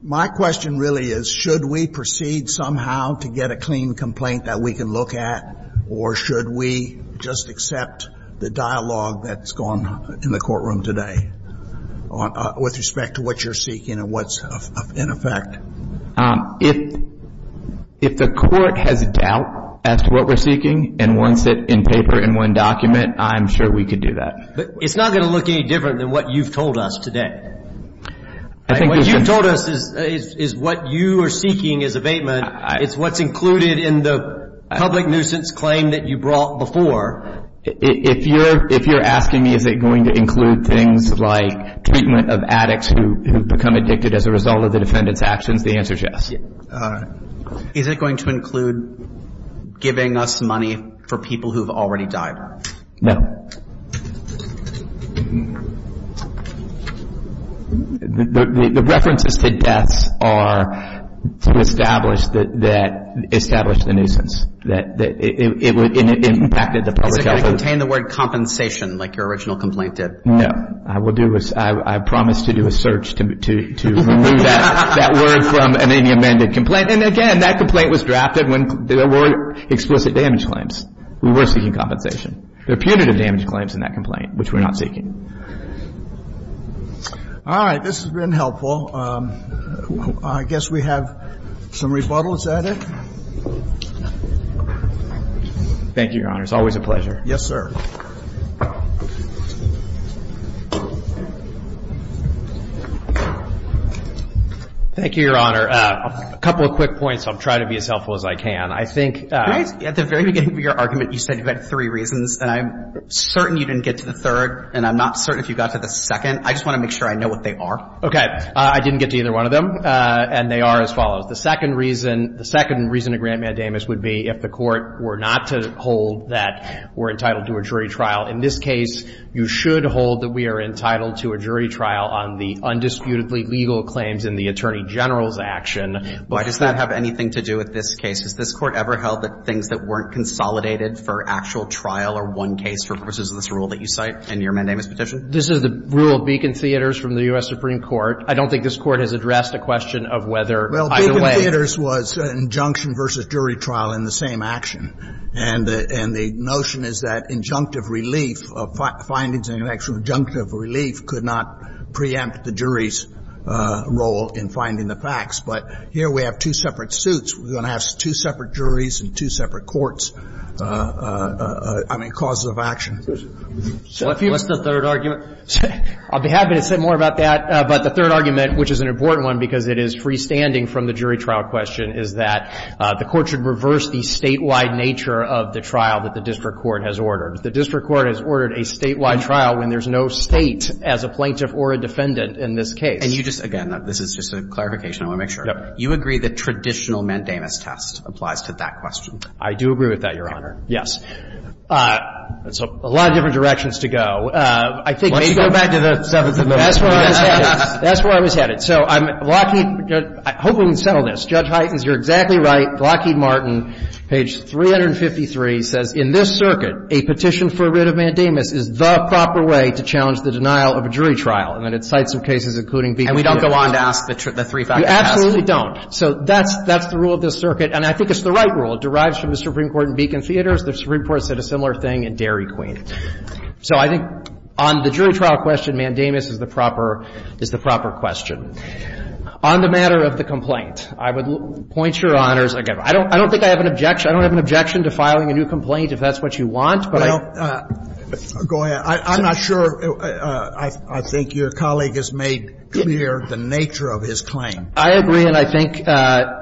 My question really is, should we proceed somehow to get a clean complaint that we can look at, or should we just accept the dialogue that's gone in the courtroom today with respect to what you're seeking and what's in effect? If the court has doubt as to what we're seeking and wants it in paper, in one document, I'm sure we could do that. But it's not going to look any different than what you've told us today. What you've told us is what you are seeking is abatement. It's what's included in the public nuisance claim that you brought before. If you're asking me is it going to include things like treatment of addicts who become addicted as a result of the defendant's actions, the answer is yes. Is it going to include giving us money for people who have already died? No. The references to deaths are to establish the nuisance. It impacted the public health. Is it going to contain the word compensation like your original complaint did? No. I promise to do a search to remove that word from any amended complaint. And again, that complaint was drafted when there were explicit damage claims. We were seeking compensation. There appeared to be damage claims in that complaint, which we're not seeking. All right. This has been helpful. I guess we have some rebuttals added. Thank you, Your Honor. It's always a pleasure. Yes, sir. Thank you, Your Honor. A couple of quick points. I'll try to be as helpful as I can. At the very beginning of your argument, you said you had three reasons. And I'm certain you didn't get to the third. And I'm not certain if you got to the second. I just want to make sure I know what they are. Okay. I didn't get to either one of them. And they are as follows. The second reason to grant mandamus would be if the Court were not to hold that we're entitled to a jury trial. In this case, you should hold that we are entitled to a jury trial on the undisputedly legal claims in the Attorney General's action. But does that have anything to do with this case? Has this Court ever held that things that weren't consolidated for actual trial are one case for purposes of this rule that you cite in your mandamus petition? This is the rule of Beacon Theaters from the U.S. Supreme Court. I don't think this Court has addressed a question of whether either way. Well, Beacon Theaters was an injunction versus jury trial in the same action. And the notion is that injunctive relief of findings in an actual injunctive relief could not preempt the jury's role in finding the facts. But here we have two separate suits. We're going to have two separate juries and two separate courts. I mean, causes of action. What's the third argument? I'll be happy to say more about that. But the third argument, which is an important one because it is freestanding from the jury trial question, is that the Court should reverse the statewide nature of the trial that the district court has ordered. The district court has ordered a statewide trial when there's no State as a plaintiff or a defendant in this case. And you just – again, this is just a clarification. I want to make sure. You agree the traditional Mandamus test applies to that question? I do agree with that, Your Honor. Yes. That's a lot of different directions to go. Let's go back to the Seventh Amendment. That's where I was headed. That's where I was headed. So I'm – Lockheed – I hope we can settle this. Judge Heitens, you're exactly right. Lockheed Martin, page 353, says, In this circuit, a petition for a writ of Mandamus is the proper way to challenge the denial of a jury trial. And then it cites some cases including Beacon Theaters. And we don't go on to ask the three-factor test? You absolutely don't. So that's – that's the rule of this circuit. And I think it's the right rule. It derives from the Supreme Court in Beacon Theaters. The Supreme Court said a similar thing in Dairy Queen. So I think on the jury trial question, Mandamus is the proper – is the proper question. On the matter of the complaint, I would point, Your Honors – I don't think I have an objection. I don't have an objection to filing a new complaint if that's what you want, but I – Well, go ahead. I'm not sure – I think your colleague has made clear the nature of his claim. I agree. And I think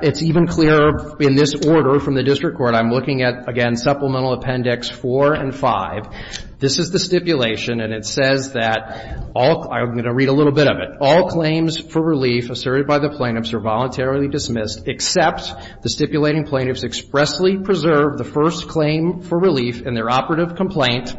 it's even clearer in this order from the district court. I'm looking at, again, Supplemental Appendix 4 and 5. This is the stipulation, and it says that all – I'm going to read a little bit of it. All claims for relief asserted by the plaintiffs are voluntarily dismissed except the stipulating plaintiffs expressly preserve the first claim for relief in their operative complaint.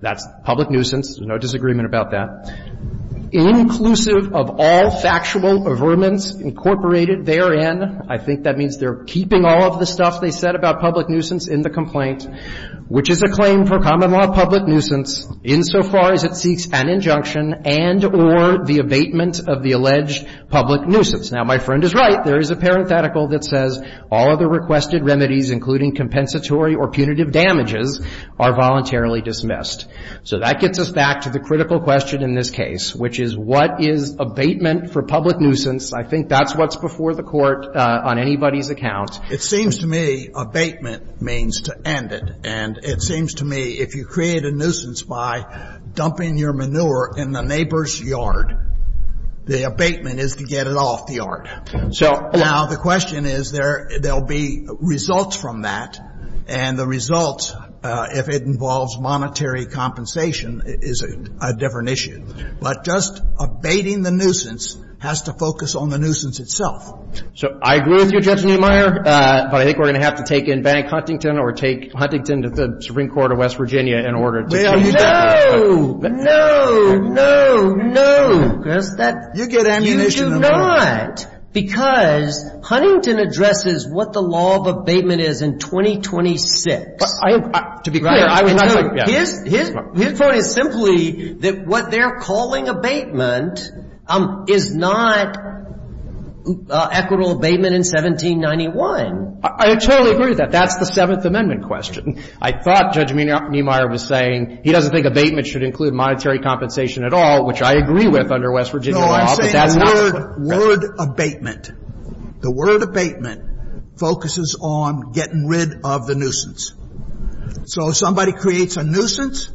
That's public nuisance. There's no disagreement about that. Inclusive of all factual averments incorporated therein – I think that means they're keeping all of the stuff they said about public nuisance in the complaint – which is a claim for common law public nuisance insofar as it seeks an injunction and or the abatement of the alleged public nuisance. Now, my friend is right. There is a parenthetical that says all other requested remedies, including compensatory or punitive damages, are voluntarily dismissed. So that gets us back to the critical question in this case, which is what is abatement for public nuisance? I think that's what's before the Court on anybody's account. It seems to me abatement means to end it. And it seems to me if you create a nuisance by dumping your manure in the neighbor's yard, the abatement is to get it off the yard. So – Now, the question is there'll be results from that. And the results, if it involves monetary compensation, is a different issue. But just abating the nuisance has to focus on the nuisance itself. So I agree with you, Judge Neumeier, but I think we're going to have to take in Bank Huntington or take Huntington to the Supreme Court of West Virginia in order to – No. No. No. No. Because that – You get ammunition. You do not. Because Huntington addresses what the law of abatement is in 2026. To be clear, I was not – His point is simply that what they're calling abatement is not equitable abatement in 1791. I totally agree with that. That's the Seventh Amendment question. I thought Judge Neumeier was saying he doesn't think abatement should include monetary compensation at all, which I agree with under West Virginia law. But that's not – I'm saying word abatement. The word abatement focuses on getting rid of the nuisance. So if somebody creates a nuisance,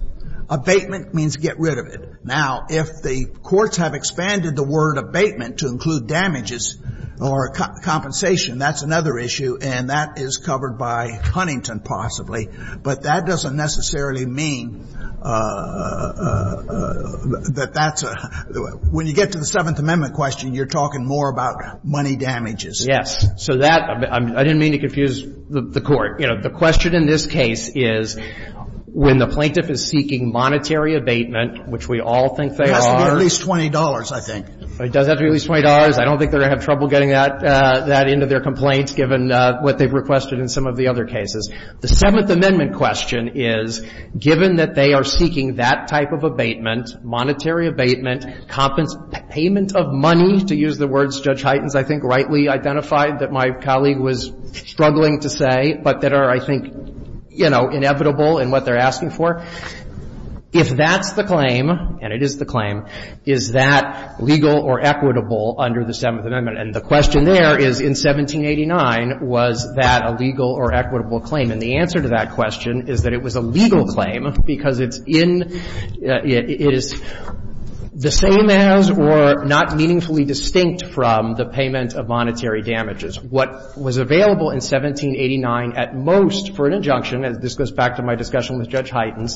abatement means get rid of it. Now, if the courts have expanded the word abatement to include damages or compensation, that's another issue, and that is covered by Huntington possibly. But that doesn't necessarily mean that that's a – when you get to the Seventh Amendment question, you're talking more about money damages. Yes. So that – I didn't mean to confuse the Court. You know, the question in this case is when the plaintiff is seeking monetary abatement, which we all think they are. It has to be at least $20, I think. It does have to be at least $20. I don't think they're going to have trouble getting that into their complaints given what they've requested in some of the other cases. The Seventh Amendment question is, given that they are seeking that type of abatement, monetary abatement, payment of money, to use the words Judge Heitens, I think, rightly identified that my colleague was struggling to say, but that are, I think, you know, inevitable in what they're asking for, if that's the claim, and it is the claim, is that legal or equitable under the Seventh Amendment? And the question there is, in 1789, was that a legal or equitable claim? And the answer to that question is that it was a legal claim because it's in – it is the same as or not meaningfully distinct from the payment of monetary damages. What was available in 1789 at most for an injunction, and this goes back to my discussion with Judge Heitens,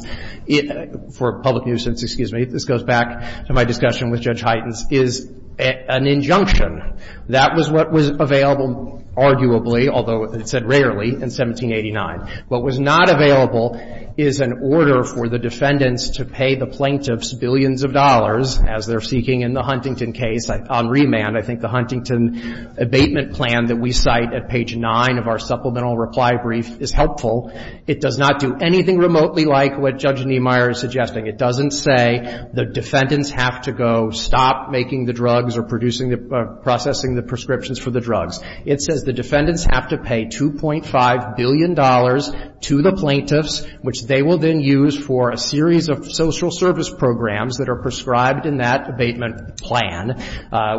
for public nuisance, excuse me, this goes back to my discussion with Judge Heitens, is an injunction. That was what was available, arguably, although it said rarely, in 1789. What was not available is an order for the defendants to pay the plaintiffs billions of dollars, as they're seeking in the Huntington case on remand. I think the Huntington abatement plan that we cite at page 9 of our supplemental reply brief is helpful. It does not do anything remotely like what Judge Niemeyer is suggesting. It doesn't say the defendants have to go stop making the drugs or producing the – processing the prescriptions for the drugs. It says the defendants have to pay $2.5 billion to the plaintiffs, which they will then use for a series of social service programs that are prescribed in that abatement plan,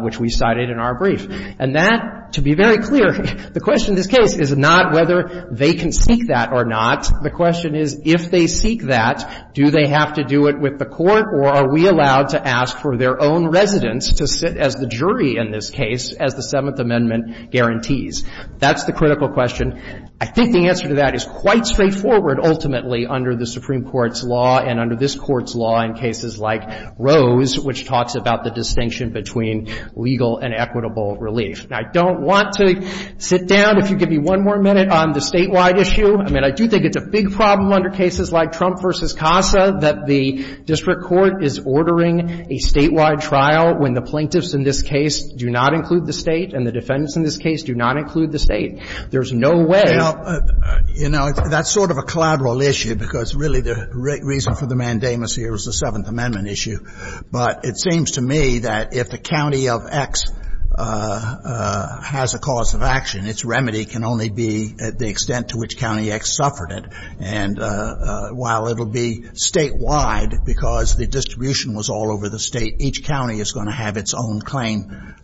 which we cited in our brief. And that, to be very clear, the question in this case is not whether they can seek that or not. The question is, if they seek that, do they have to do it with the court, or are we allowed to ask for their own residence to sit as the jury in this case, as the Seventh Amendment guarantees? That's the critical question. I think the answer to that is quite straightforward, ultimately, under the Supreme Court's law and under this Court's law in cases like Rose, which talks about the distinction between legal and equitable relief. Now, I don't want to sit down. If you could give me one more minute on the statewide issue. I mean, I do think it's a big problem under cases like Trump v. CASA that the district court is ordering a statewide trial when the plaintiffs in this case do not include the State and the defendants in this case do not include the State. There's no way – Well, you know, that's sort of a collateral issue, because really the reason for the mandamus here is the Seventh Amendment issue. But it seems to me that if the county of X has a cause of action, its remedy can only be the extent to which county X suffered it. And while it will be statewide, because the distribution was all over the State, each county is going to have its own claim,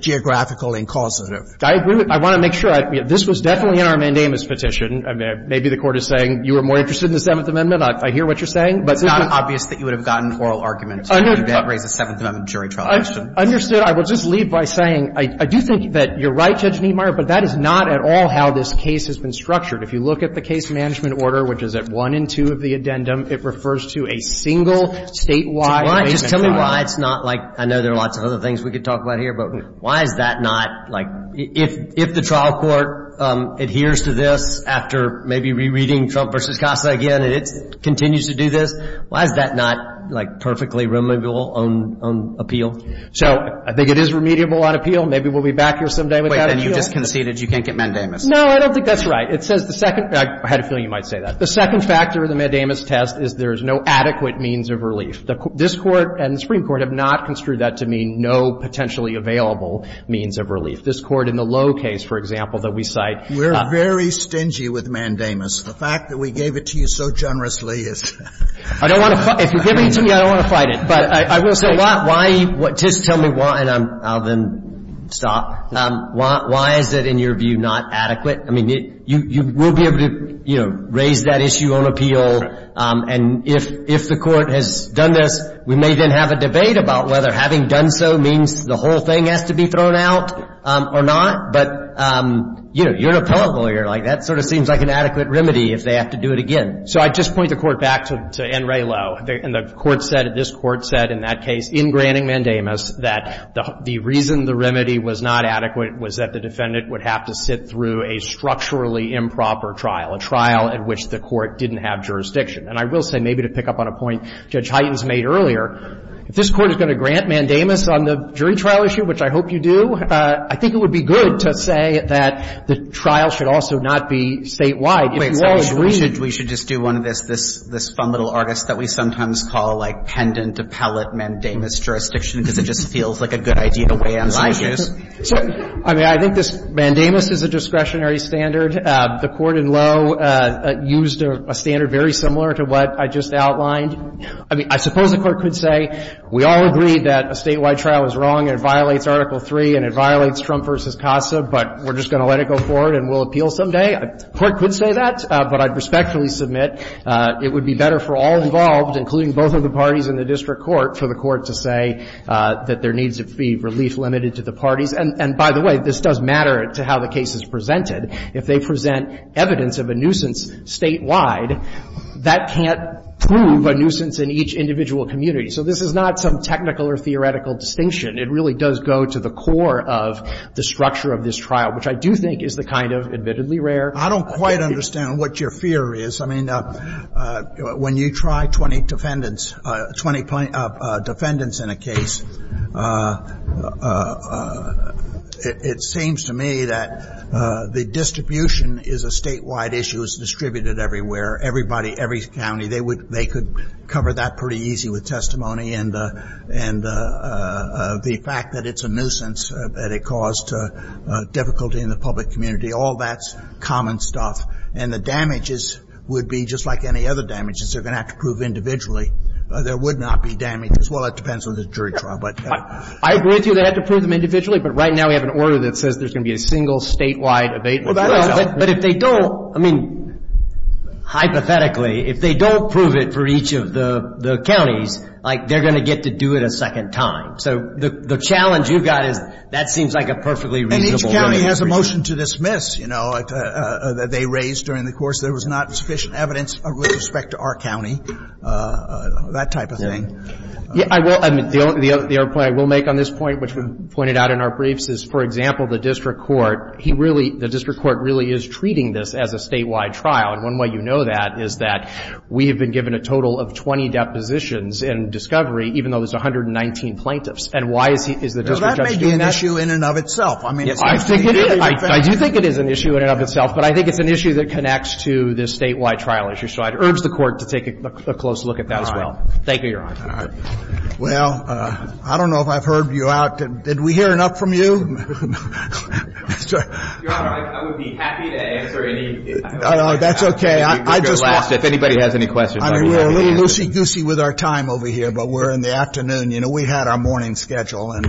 geographical and causative. I agree with – I want to make sure. This was definitely in our mandamus petition. Maybe the Court is saying you were more interested in the Seventh Amendment. I hear what you're saying. It's not obvious that you would have gotten oral argument to raise the Seventh Amendment jury trial issue. Understood. I will just leave by saying, I do think that you're right, Judge Niemeyer, but that is not at all how this case has been structured. If you look at the case management order, which is at 1 and 2 of the addendum, it refers to a single statewide claimant trial. Just tell me why it's not like – I know there are lots of other things we could talk about here, but why is that not – like, if the trial court adheres to this after maybe rereading Trump v. Casa again and it continues to do this, why is that not, like, perfectly remediable on appeal? So I think it is remediable on appeal. Maybe we'll be back here someday without appeal. Then you just conceded you can't get mandamus. No, I don't think that's right. It says the second – I had a feeling you might say that. The second factor of the mandamus test is there is no adequate means of relief. This Court and the Supreme Court have not construed that to mean no potentially available means of relief. This Court in the Lowe case, for example, that we cite – We're very stingy with mandamus. The fact that we gave it to you so generously is – I don't want to – if you give it to me, I don't want to fight it. But I will say why – just tell me why – and I'll then stop. Why is it, in your view, not adequate? I mean, you will be able to, you know, raise that issue on appeal. And if the Court has done this, we may then have a debate about whether having done so means the whole thing has to be thrown out or not. But, you know, you're an appellate lawyer. Like, that sort of seems like an adequate remedy if they have to do it again. So I'd just point the Court back to N. Ray Lowe. And the Court said – this Court said in that case, in granting mandamus, that the reason the remedy was not adequate was that the defendant would have to sit through a structurally improper trial, a trial in which the Court didn't have jurisdiction. And I will say, maybe to pick up on a point Judge Hytens made earlier, if this Court is going to grant mandamus on the jury trial issue, which I hope you do, I think it would be good to say that the trial should also not be statewide. If you all agree – Should we should just do one of this, this fun little artist that we sometimes call, like, pendant appellate mandamus jurisdiction, because it just feels like a good idea to weigh in on my views? I mean, I think this mandamus is a discretionary standard. The Court in Lowe used a standard very similar to what I just outlined. I mean, I suppose the Court could say we all agree that a statewide trial is wrong and it violates Article III and it violates Trump v. CASA, but we're just going to let it go forward and we'll appeal someday. The Court could say that, but I'd respectfully submit it would be better for all involved, including both of the parties in the district court, for the Court to say that there needs to be relief limited to the parties. And by the way, this does matter to how the case is presented. If they present evidence of a nuisance statewide, that can't prove a nuisance in each individual community. So this is not some technical or theoretical distinction. It really does go to the core of the structure of this trial, which I do think is the kind of admittedly rare. I don't quite understand what your fear is. I mean, when you try 20 defendants, 20 defendants in a case, it seems to me that the distribution is a statewide issue. It's distributed everywhere, everybody, every county. They could cover that pretty easy with testimony and the fact that it's a nuisance that it caused difficulty in the public community. All that's common stuff. And the damages would be just like any other damages. They're going to have to prove individually. There would not be damages. Well, it depends on the jury trial, but. I agree with you they have to prove them individually, but right now we have an order that says there's going to be a single statewide abatement. Well, but if they don't, I mean, hypothetically, if they don't prove it for each of the counties, like, they're going to get to do it a second time. So the challenge you've got is that seems like a perfectly reasonable way. And each county has a motion to dismiss, you know, that they raised during the course. There was not sufficient evidence with respect to our county, that type of thing. Yeah, I will. I mean, the other point I will make on this point, which we pointed out in our briefs, is, for example, the district court, he really, the district court really is treating this as a statewide trial. And one way you know that is that we have been given a total of 20 depositions in discovery, even though there's 119 plaintiffs. And why is he, is the district judge doing that? Now, that may be an issue in and of itself. I mean. I think it is. I do think it is an issue in and of itself. But I think it's an issue that connects to this statewide trial issue. So I'd urge the Court to take a close look at that as well. Thank you, Your Honor. All right. Well, I don't know if I've heard you out. Did we hear enough from you? Your Honor, I would be happy to answer any. That's okay. I just want. If anybody has any questions. I mean, we're a little loosey-goosey with our time over here. But we're in the afternoon. You know, we had our morning schedule. And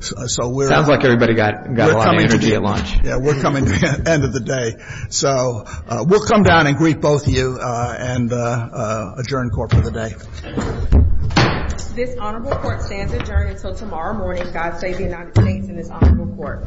so we're. Sounds like everybody got a lot of energy at lunch. Yeah, we're coming to the end of the day. So we'll come down and greet both you and adjourn court for the day. This honorable court stands adjourned until tomorrow morning. God save the United States and this honorable court.